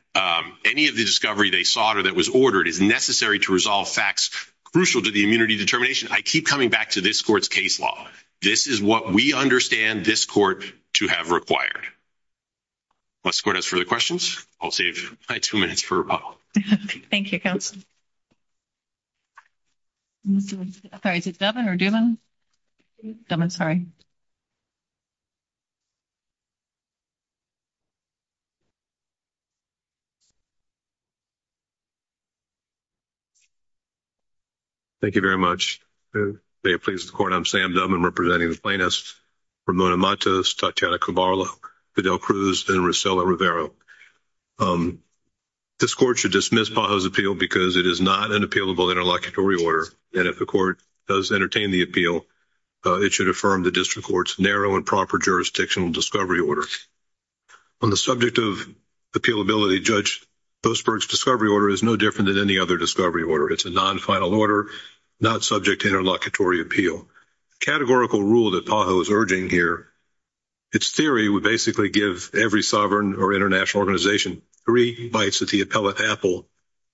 any of the discovery they sought or that was ordered is necessary to resolve facts crucial to the immunity determination. I keep coming back to this court's case law. This is what we understand this court to have required. Unless the court has further questions, I'll save my two minutes for a poll. Thank you, counsel. I'm sorry, is it Devin or Duman? Devin, sorry. Thank you very much. May it please the court, I'm Sam Duman representing the plaintiffs, Ramona Matos, Tatiana Cabarla, Fidel Cruz, and Rosella Rivera. This court should dismiss PAHO's appeal because it is not an appealable interlocutory order, and if the court does entertain the appeal, it should affirm the district court's narrow and proper jurisdictional discovery order. On the subject of appealability, Judge Postberg's discovery order is no different than any other discovery order. It's a non-final order, not subject to interlocutory appeal. Categorical rule that PAHO is urging here, its theory would basically give every sovereign or international organization three nights to appellate Apple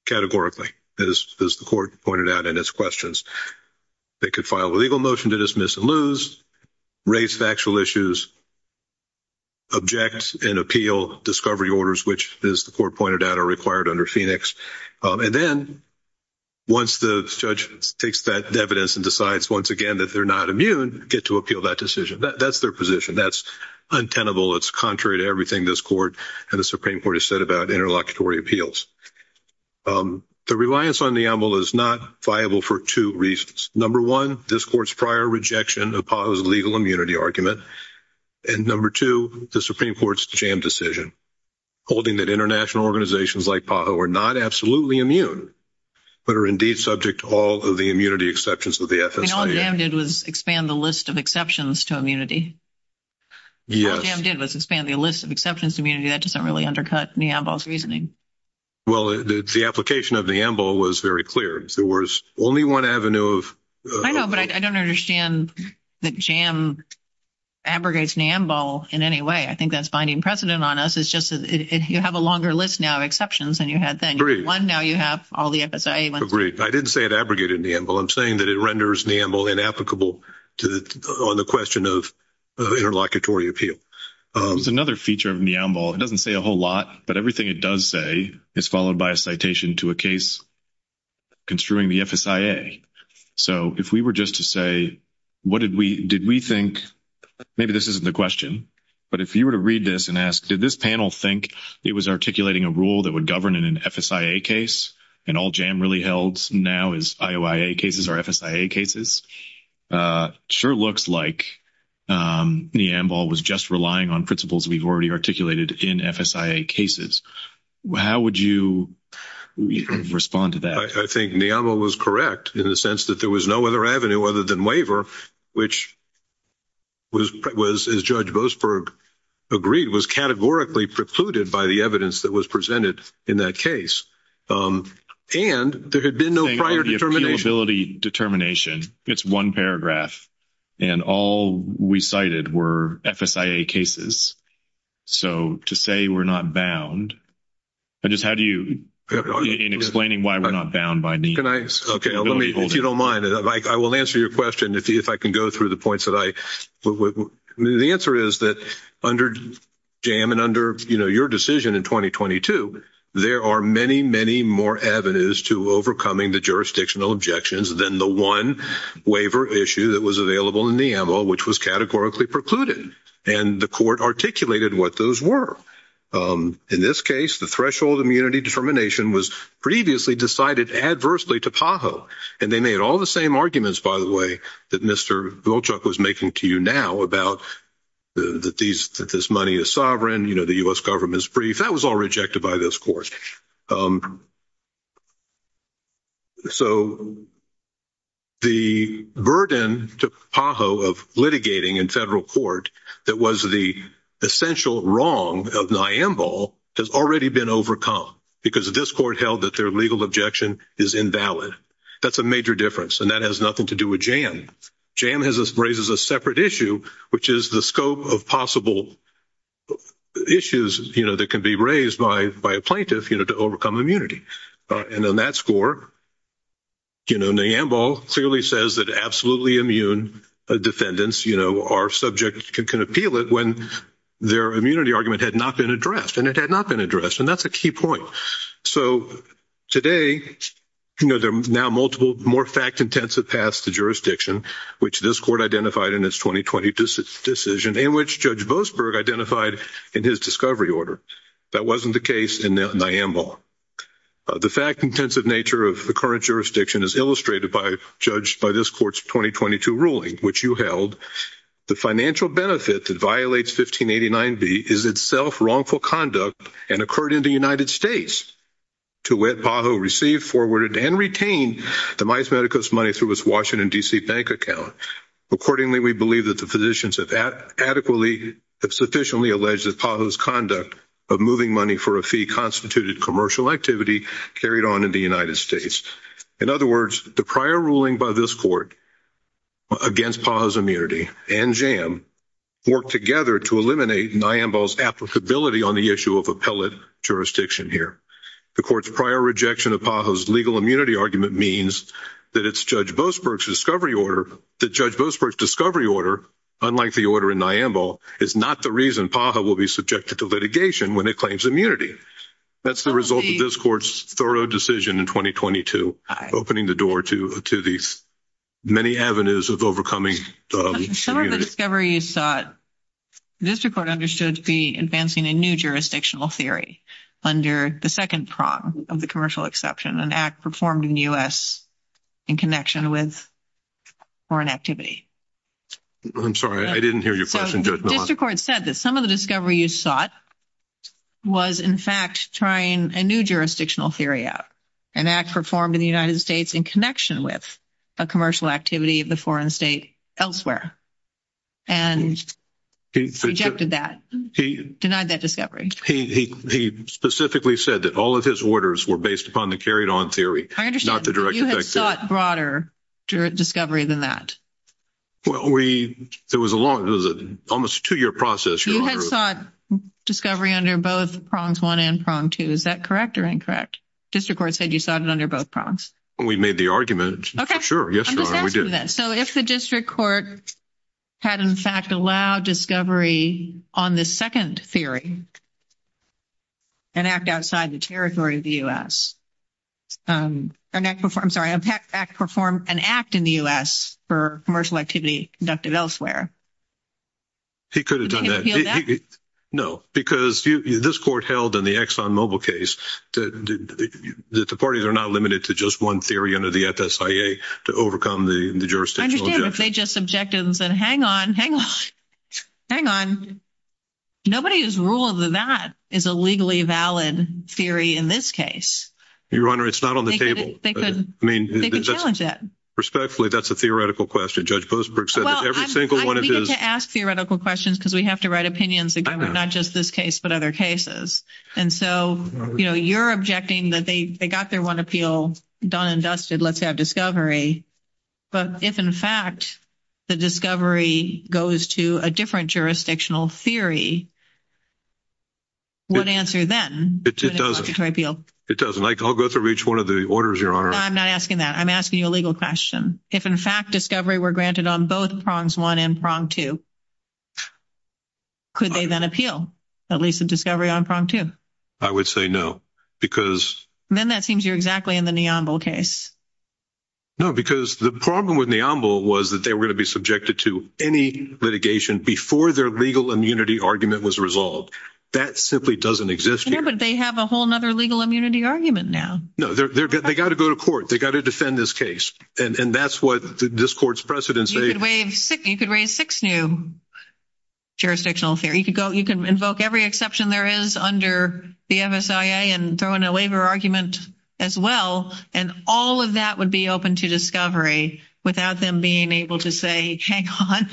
categorically, as the court pointed out in its questions. It could file a legal motion to dismiss and lose, raise factual issues, object and appeal discovery orders, which, as the court pointed out, are required under Phoenix. And then, once the judge takes that evidence and decides once again that they're not immune, get to appeal that decision. That's their position. That's untenable. It's contrary to everything this court and the Supreme Court has said about interlocutory appeals. The reliance on the AML is not viable for two reasons. Number one, this court's prior rejection of PAHO's legal immunity argument. And number two, the Supreme Court's jammed decision, holding that international organizations like PAHO are not absolutely immune, but are indeed subject to all of the immunity exceptions of the FSA. All it did was expand the list of exceptions to immunity. All JAM did was expand the list of exceptions to immunity. That doesn't really undercut NAMBOL's reasoning. Well, the application of NAMBOL was very clear. There was only one avenue of- I know, but I don't understand that JAM abrogates NAMBOL in any way. I think that's binding precedent on us. It's just that you have a longer list now of exceptions than you had then. Agreed. One, now you have all the FSA ones. Agreed. I didn't say it abrogated NAMBOL. I'm saying that it renders NAMBOL inapplicable on the question of interlocutory appeal. Another feature of NAMBOL, it doesn't say a whole lot, but everything it does say is followed by a citation to a case construing the FSIA. So if we were just to say, what did we- did we think- maybe this isn't the question, but if you were to read this and ask, did this panel think it was articulating a rule that would govern in an FSIA case, and all JAM really held now is IOIA cases or FSIA cases, sure looks like NAMBOL was just relying on principles we've already articulated in FSIA cases. How would you respond to that? I think NAMBOL was correct in the sense that there was no other avenue other than waiver, which was, as Judge Boasberg agreed, was categorically precluded by the evidence that was presented in that case. And there had been no prior determination. The appealability determination, it's one paragraph, and all we cited were FSIA cases. So to say we're not bound, I just- how do you- in explaining why we're not bound by NAMBOL. Okay, if you don't mind, I will answer your question if I can go through the points that I- the answer is that under JAM and under, you know, your decision in 2022, there are many, many more avenues to overcoming the jurisdictional objections than the one waiver issue that was available in NAMBOL, which was categorically precluded, and the court articulated what those were. In this case, the threshold immunity determination was previously decided adversely to PAHO, and they made all the same arguments, by the way, that Mr. Volchuk was making to you now about that these- that this money is sovereign, you know, the U.S. government's brief. That was all rejected by this court. So the burden to PAHO of litigating in federal court that was the essential wrong of NAMBOL has already been overcome because this court held that their legal objection is invalid. That's a major difference, and that has nothing to do with JAM. JAM has- raises a separate issue, which is the scope of possible issues, you know, that can be raised by a plaintiff, you know, to overcome immunity. And on that score, you know, NAMBOL clearly says that absolutely immune defendants, you know, are subject- can appeal it when their immunity argument had not been addressed, and it had not been addressed, and that's a key point. So today, you know, there are now multiple, more fact-intensive paths to jurisdiction, which this court identified in its 2020 decision, and which Judge Boasberg identified in his discovery order. That wasn't the case in NAMBOL. The fact-intensive nature of the current jurisdiction is illustrated by- judged by this court's 2022 ruling, which you held, the financial benefit that violates 1589b is itself wrongful conduct and occurred in the United States to wed PAHO, receive, forward, and retain Demis Medicus money through its Washington, D.C., bank account. Accordingly, we believe that the physicians have adequately- have sufficiently alleged that PAHO's conduct of moving money for a fee constituted commercial activity carried on in the United States. In other words, the prior ruling by this court against PAHO's immunity and JAM worked together to eliminate NAMBOL's applicability on the issue of appellate jurisdiction here. The court's prior rejection of PAHO's legal immunity argument means that it's Judge Boasberg's discovery order- that Judge Boasberg's discovery order, unlike the order in NAMBOL, is not the reason PAHO will be subjected to litigation when it claims immunity. That's the result of this court's thorough decision in 2022, opening the door to these many avenues of overcoming- Some of the discovery you sought, this report understood to be advancing a new jurisdictional theory under the second prong of the commercial exception, an act performed in the U.S. in connection with foreign activity. I'm sorry, I didn't hear your question, Judge Mohawk. This report said that some of the discovery you sought was, in fact, trying a new jurisdictional theory out, an act performed in the United States in connection with a commercial activity of the foreign state elsewhere. And he rejected that, denied that discovery. He specifically said that all of his orders were based upon the carried-on theory, not the direct effect theory. I understand. You had sought broader discovery than that. Well, there was a long, almost a two-year process. You had sought discovery under both prongs one and prong two. Is that correct or incorrect? District Court said you sought it under both prongs. We made the argument. Okay. Sure, yes, we did. So, if the District Court had, in fact, allowed discovery on the second theory, an act outside the territory of the U.S. I'm sorry, an act performed in the U.S. for commercial activity conducted elsewhere. He could have done that. No, because this court held in the ExxonMobil case that the parties are not limited to just one theory under the FSIA to overcome the jurisdictional objection. I understand, but they just objected and said, hang on, hang on, hang on. Nobody has ruled that that is a legally valid theory in this case. Your Honor, it's not on the table. They could challenge that. Respectfully, that's a theoretical question. Judge Boothbrook said that every single one of his— I need to ask theoretical questions because we have to write opinions that go with not just this case but other cases. And so, you know, you're objecting that they got their one appeal done and dusted, let's have discovery. But if, in fact, the discovery goes to a different jurisdictional theory, what answer then? It doesn't. I'll go through each one of the orders, Your Honor. I'm not asking that. I'm asking you a legal question. If, in fact, discovery were granted on both prongs one and prong two, could they then appeal at least the discovery on prong two? I would say no, because— And then that seems you're exactly in the Neambul case. No, because the problem with Neambul was that they were going to be subjected to any litigation before their legal immunity argument was resolved. That simply doesn't exist here. Yeah, but they have a whole other legal immunity argument now. No, they've got to go to court. They've got to defend this case. And that's what this court's precedents say— You could raise six new jurisdictional theory. You could invoke every exception there is under the MSIA and throw in a waiver argument as well, and all of that would be open to discovery without them being able to say, hang on,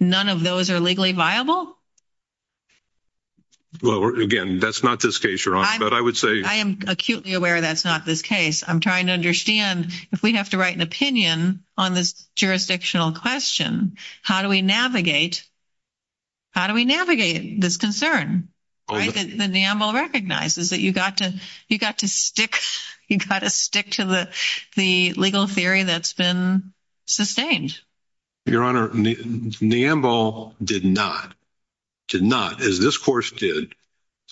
none of those are legally viable? Well, again, that's not this case, Your Honor, but I would say— I am acutely aware that's not this case. I'm trying to understand, if we have to write an opinion on this jurisdictional question, how do we navigate this concern that Neambul recognizes, that you've got to stick to the legal theory that's been sustained? Your Honor, Neambul did not, did not, as this court did,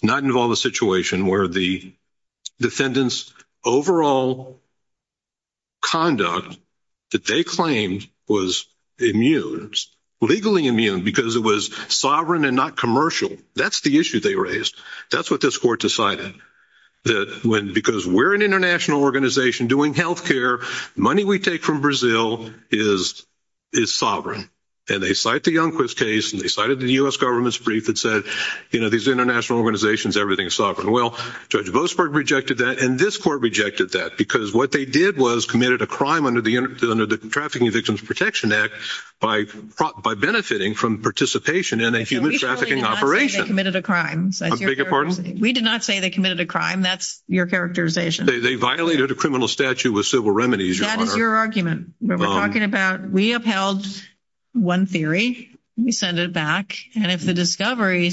not involve a situation where the defendant's overall conduct that they claimed was immune, legally immune, because it was sovereign and not commercial. That's the issue they raised. That's what this court decided, that because we're an international organization doing healthcare, money we take from Brazil is sovereign. And they cite the Youngquist case, and they cited the U.S. government's brief that said, you know, these international organizations, everything's sovereign. Well, Judge Boasberg rejected that, and this court rejected that, because what they did was committed a crime under the Trafficking Victims Protection Act by benefiting from participation in a human trafficking operation. They committed a crime. I beg your pardon? We did not say they committed a crime. That's your characterization. They violated a criminal statute with civil remedies, Your Honor. That is your argument. We're talking about—we upheld one theory. We send it back. And if the discovery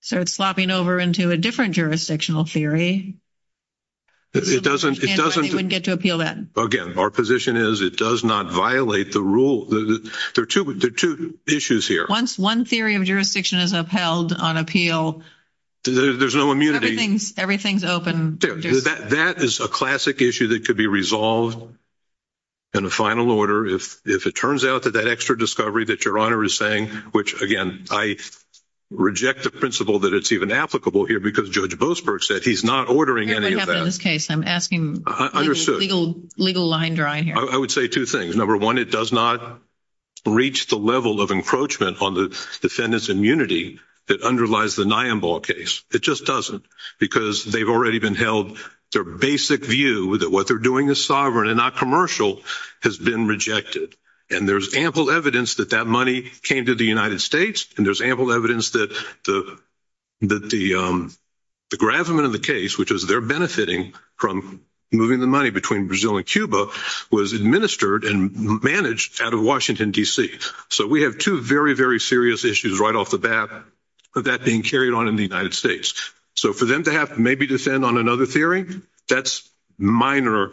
starts flopping over into a different jurisdictional theory— It doesn't— —we wouldn't get to appeal that. Again, our position is it does not violate the rule. There are two issues here. Once one theory of jurisdiction is upheld on appeal— There's no immunity. Everything's open. That is a classic issue that could be resolved in a final order. If it turns out that that extra discovery that Your Honor is saying— which, again, I reject the principle that it's even applicable here, because Judge Boasberg said he's not ordering any of that. It doesn't happen in this case. I'm asking legal line drawing here. I would say two things. Number one, it does not reach the level of encroachment on the defendant's immunity that underlies the Niambal case. It just doesn't, because they've already been held— their basic view that what they're doing is sovereign and not commercial has been rejected. And there's ample evidence that that money came to the United States, and there's ample evidence that the Grafman and the case, which is they're benefiting from moving the money between Brazil and Cuba, was administered and managed out of Washington, D.C. So we have two very, very serious issues right off the bat of that being carried on in the United States. So for them to have to maybe defend on another theory, that's minor.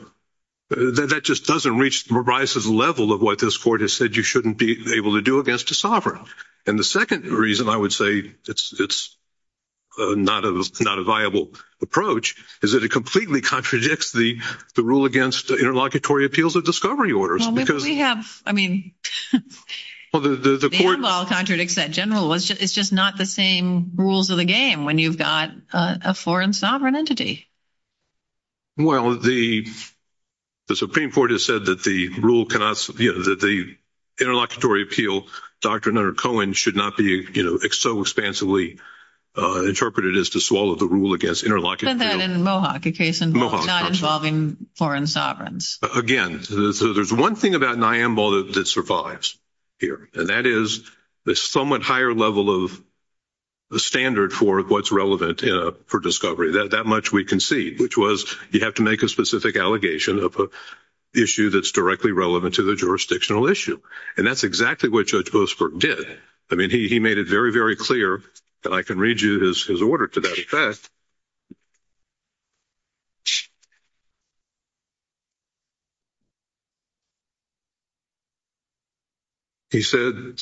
That just doesn't reach the level of what this court has said you shouldn't be able to do against a sovereign. And the second reason I would say it's not a viable approach is that it completely contradicts the rule against interlocutory appeals of discovery orders. Well, we have—I mean, Niambal contradicts that general. It's just not the same rules of the game when you've got a foreign sovereign entity. Well, the Supreme Court has said that the rule cannot— that the interlocutory appeal doctrine under Cohen should not be so expansively interpreted as to swallow the rule against interlocutory— Said that in Mohawk, a case involving foreign sovereigns. Again, there's one thing about Niambal that survives here, and that is the somewhat higher level of the standard for what's relevant for discovery. That much we can see, which was you have to make a specific allegation of an issue that's directly relevant to the jurisdictional issue. And that's exactly what Judge Boasberg did. I mean, he made it very, very clear, and I can read you his order to that effect. He said,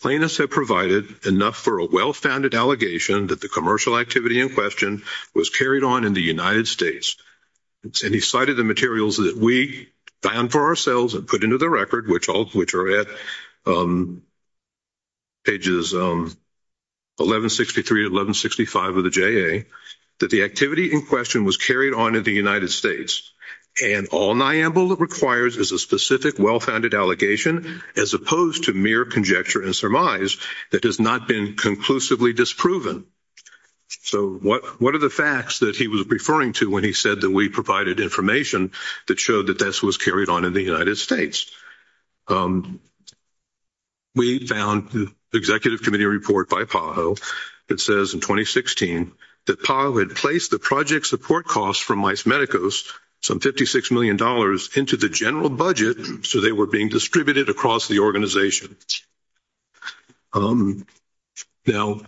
Plaintiffs have provided enough for a well-founded allegation that the commercial activity in question was carried on in the United States. And he cited the materials that we found for ourselves and put into the record, which are at pages 1163, 1165 of the JA, that the activity in question was carried on in the United States. And all Niambal requires is a specific, well-founded allegation, as opposed to mere conjecture and surmise that has not been conclusively disproven. So what are the facts that he was referring to when he said that we provided information that showed that this was carried on in the United States? We found the Executive Committee report by PAHO that says, in 2016, that PAHO had placed the project support costs from Mice Medicus, some $56 million, into the general budget, so they were being distributed across the organization. Now,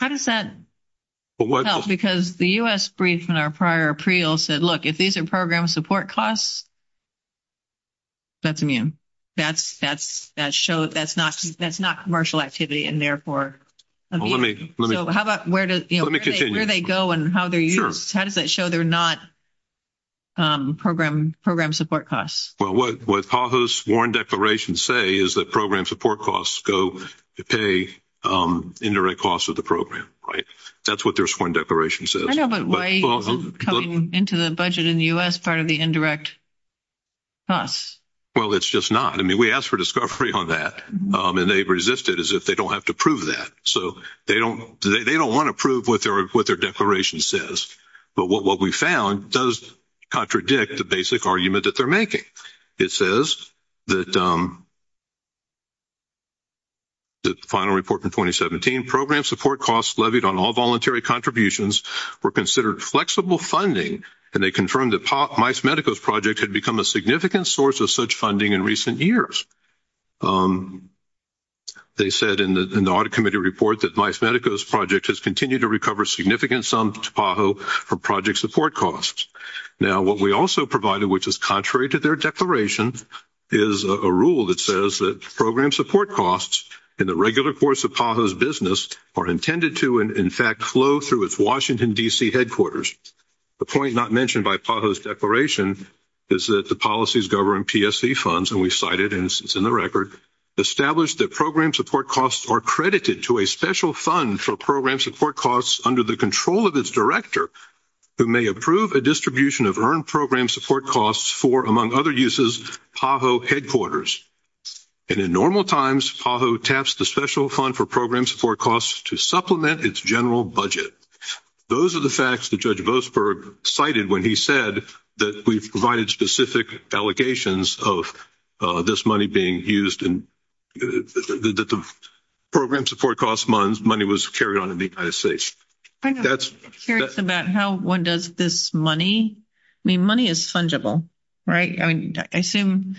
how does that help? Because the U.S. brief in our prior appeal said, look, if these are program support costs, that's immune. That's not commercial activity and, therefore, immune. So how about where do they go and how they're used? How does that show they're not program support costs? Well, what PAHO's sworn declaration say is that program support costs go to pay indirect costs of the program, right? That's what their sworn declaration says. I know, but why are you cutting into the budget in the U.S. part of the indirect costs? Well, it's just not. I mean, we asked for discovery on that, and they've resisted as if they don't have to prove that. So they don't want to prove what their declaration says. But what we found does contradict the basic argument that they're making. It says that the final report from 2017, program support costs levied on all voluntary contributions were considered flexible funding, and they confirmed that Mice Medicus Project had become a significant source of such funding in recent years. They said in the audit committee report that Mice Medicus Project has continued to recover significant sums of PAHO for project support costs. Now, what we also provided, which is contrary to their declaration, is a rule that says that program support costs in the regular course of PAHO's business are intended to, in fact, flow through its Washington, D.C. headquarters. The point not mentioned by PAHO's declaration is that the policies governing PSC funds, and we cite it, and it's in the record, established that program support costs are credited to a special fund for program support costs under the control of its director who may approve a distribution of earned program support costs for, among other uses, PAHO headquarters. And in normal times, PAHO taps the special fund for program support costs to supplement its general budget. Those are the facts that Judge Boasberg cited when he said that we provided specific allegations of this money being used and that the program support costs money was carried on in the United States. I'm curious about how one does this money. I mean, money is fungible, right? I mean, I assume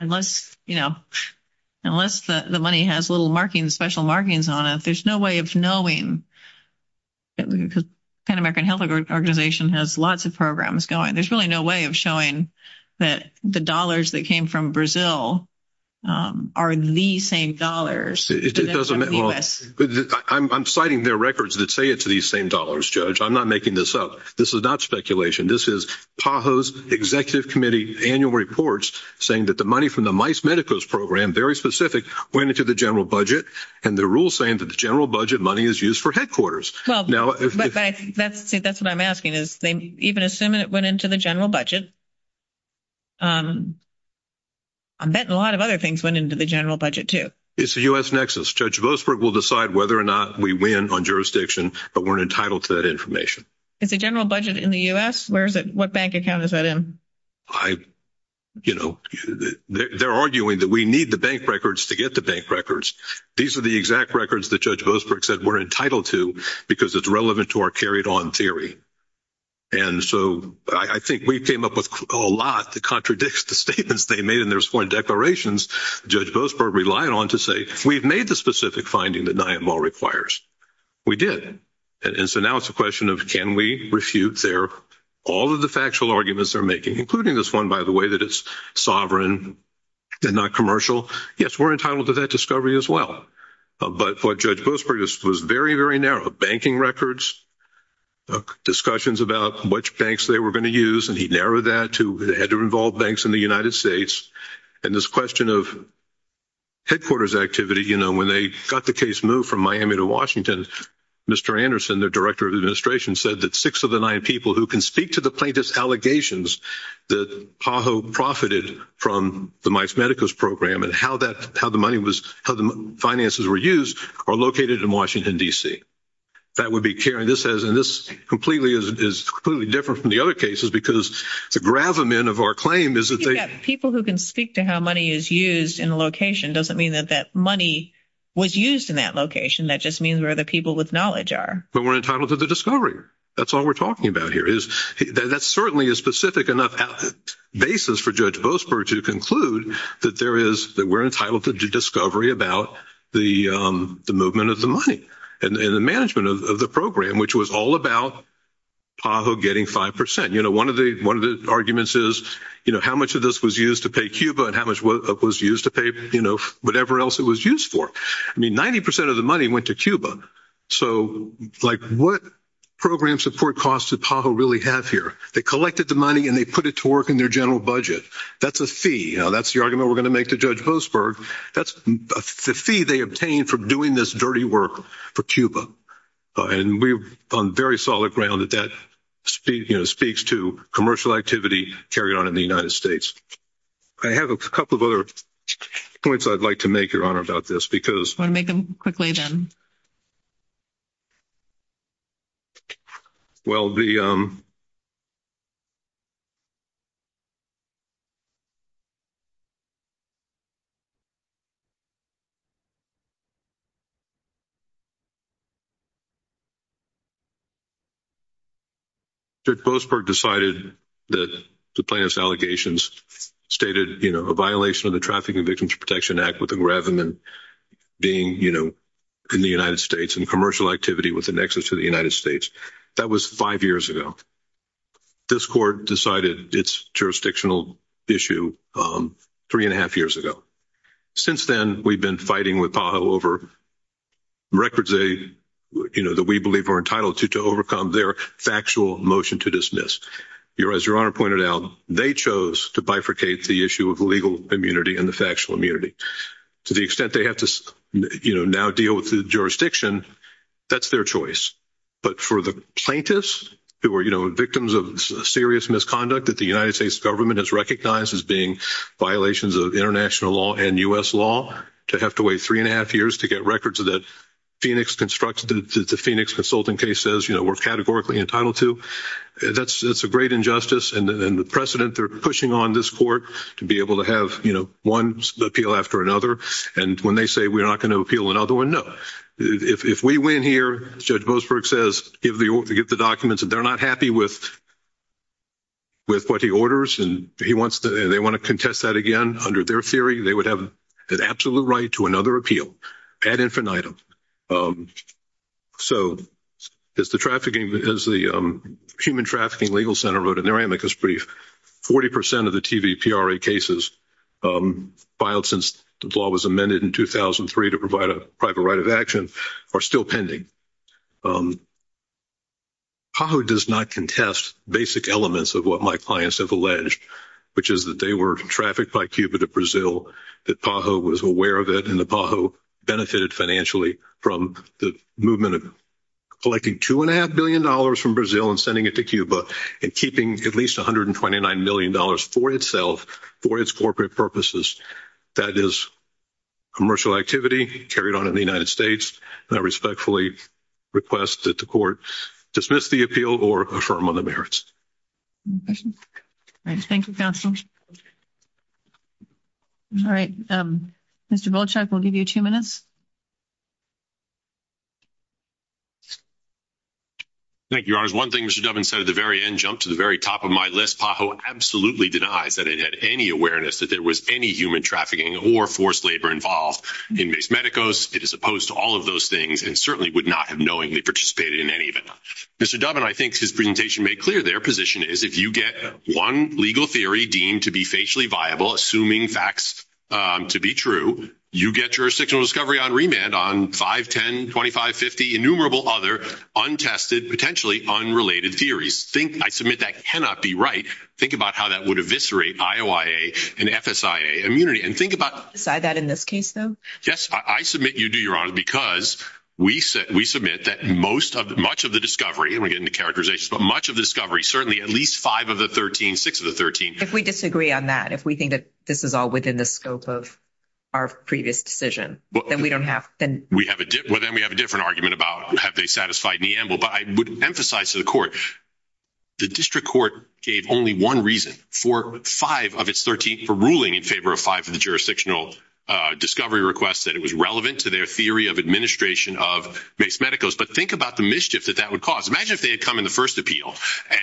unless, you know, unless the money has little markings, special markings on it, there's no way of knowing because the Pan American Health Organization has lots of programs going. There's really no way of showing that the dollars that came from Brazil are the same dollars. It doesn't, well, I'm citing their records that say it's the same dollars, Judge. I'm not making this up. This is not speculation. This is PAHO's executive committee annual reports saying that the money from the MICE saying that the general budget money is used for headquarters. Well, that's what I'm asking is they even assume it went into the general budget. I'm betting a lot of other things went into the general budget, too. It's a U.S. nexus. Judge Boasberg will decide whether or not we win on jurisdiction, but we're entitled to that information. It's a general budget in the U.S.? Where is it? What bank account is that in? I, you know, they're arguing that we need the bank records to get the bank records. These are the exact records that Judge Boasberg said we're entitled to because it's relevant to our carried-on theory. And so I think we came up with a lot to contradict the statements they made in their sworn declarations. Judge Boasberg relied on to say, we've made the specific finding that NIAML requires. We did, and so now it's a question of can we refute their, all of the factual arguments they're making, including this one, by the way, that it's sovereign and not commercial. Yes, we're entitled to that discovery as well, but what Judge Boasberg was very, very narrow. Banking records, discussions about which banks they were going to use, and he narrowed that to it had to involve banks in the United States, and this question of headquarters activity. You know, when they got the case moved from Miami to Washington, Mr. Anderson, the director of administration, said that six of the nine people who can speak to the plaintiff's allegations that PAHO profited from the Mike's Medicos program and how the finances were used are located in Washington, D.C. That would be Karen. This is completely different from the other cases because the gravamen of our claim is that they... People who can speak to how money is used in the location doesn't mean that that money was used in that location. That just means where the people with knowledge are. But we're entitled to the discovery. That's all we're talking about here. That's certainly a specific enough basis for Judge Boasberg to conclude that we're entitled to the discovery about the movement of the money and the management of the program, which was all about PAHO getting 5%. One of the arguments is how much of this was used to pay Cuba and how much of it was used to pay whatever else it was used for. I mean, 90% of the money went to Cuba. So, like, what program support costs did PAHO really have here? They collected the money and they put it to work in their general budget. That's a fee. That's the argument we're going to make to Judge Boasberg. That's the fee they obtained for doing this dirty work for Cuba. And we're on very solid ground that that speaks to commercial activity carried on in the United States. I have a couple of other points I'd like to make, Your Honor, about this because... I want to make them quickly then. Well, Judge Boasberg decided that the plaintiff's allegations stated, you know, a violation of the Trafficking Victims Protection Act with a gravamen being, you know, in the United States and commercial activity with an exit to the United States. That was five years ago. This court decided its jurisdictional issue three and a half years ago. Since then, we've been fighting with PAHO over records that we believe are entitled to overcome their factual motion to dismiss. As Your Honor pointed out, they chose to bifurcate the issue of legal immunity and the factual immunity. To the extent they have to, you know, now deal with the jurisdiction, that's their choice. But for the plaintiffs who are, you know, victims of serious misconduct that the United States government has recognized as being violations of international law and U.S. law, to have to wait three and a half years to get records that the Phoenix consultant case says, you know, we're categorically entitled to, that's a great injustice. And the precedent, they're pushing on this court to be able to have, you know, one appeal after another. And when they say we're not going to appeal another one, no. If we win here, Judge Boasberg says, get the documents, and they're not happy with what he orders, and they want to contest that again under their theory, they would have an absolute right to another appeal ad infinitum. So, as the human trafficking legal center wrote in their amicus brief, 40 percent of the TVPRA cases filed since the law was amended in 2003 to provide a private right of action are still pending. PAHO does not contest basic elements of what my clients have alleged, which is that they were trafficked by Cuba to Brazil, that PAHO was aware of it, and that PAHO benefited financially from the movement of collecting $2.5 billion from Brazil and sending it to Cuba, and keeping at least $129 million for itself, for its corporate purposes. That is commercial activity carried on in the United States, and I respectfully request that the court dismiss the appeal or affirm on the merits. Any questions? All right. Thank you, counsel. All right, Mr. Volchak, we'll give you two minutes. Thank you, Your Honor. One thing Mr. Dubbin said at the very end, jumped to the very top of my list, PAHO absolutely denies that it had any awareness that there was any human trafficking or forced labor involved in MES MEDICOS. It is opposed to all of those things, and certainly would not have knowingly participated in any of it. Mr. Dubbin, I think his presentation made clear their position is, if you get one legal theory deemed to be facially viable, assuming facts to be true, you get your sexual discovery on remand on 5, 10, 25, 50, innumerable other untested, potentially unrelated theories. I submit that cannot be right. Think about how that would eviscerate IOIA and FSIA immunity, and think about- Decide that in this case, though? Yes. I submit you do, Your Honor, because we submit that much of the discovery, and we're getting the characterization, but much of the discovery, certainly at least five of the 13, six of the 13- If we disagree on that, if we think that this is all within the scope of our previous decision, then we don't have- Well, then we have a different argument about have they satisfied Neambul. But I would emphasize to the court, the district court gave only one reason for five of its 13 for ruling in favor of five of the jurisdictional discovery requests, that it was relevant to their theory of administration of MES MEDICOS. But think about the mischief that that would cause. Imagine if they had come in the first appeal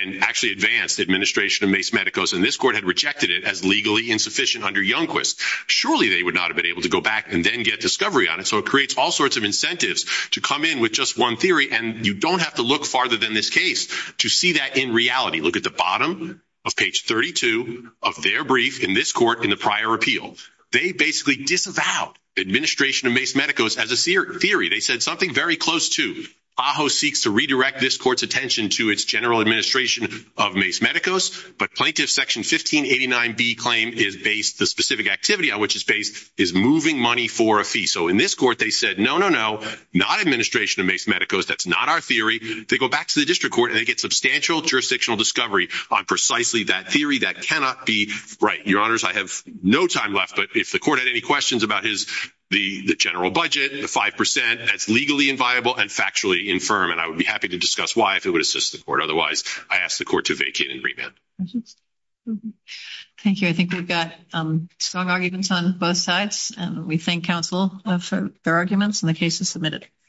and actually advanced administration of MES MEDICOS, and this court had rejected it as legally insufficient under Youngquist. Surely they would not have been able to go back and then get discovery on it. So it creates all sorts of incentives to come in with just one theory, and you don't have to look farther than this case to see that in reality. Look at the bottom of page 32 of their brief in this court in the prior appeal. They basically disavowed administration of MES MEDICOS as a theory. They said something very close to. AHO seeks to redirect this court's attention to its general administration of MES MEDICOS, but plaintiff's section 1589B claim is based, the specific activity on which it's based, is moving money for a fee. So in this court, they said, no, no, no, not administration of MES MEDICOS. That's not our theory. They go back to the district court and they get substantial jurisdictional discovery on precisely that theory that cannot be right. Your honors, I have no time left, but if the court had any questions about his, the general budget, the 5%, that's legally inviolable and factually infirm, and I would be happy to discuss why if it would assist the court. Otherwise, I ask the court to vacate and remand. Thank you. I think we've got strong arguments on both sides, and we thank counsel for their arguments and the cases submitted.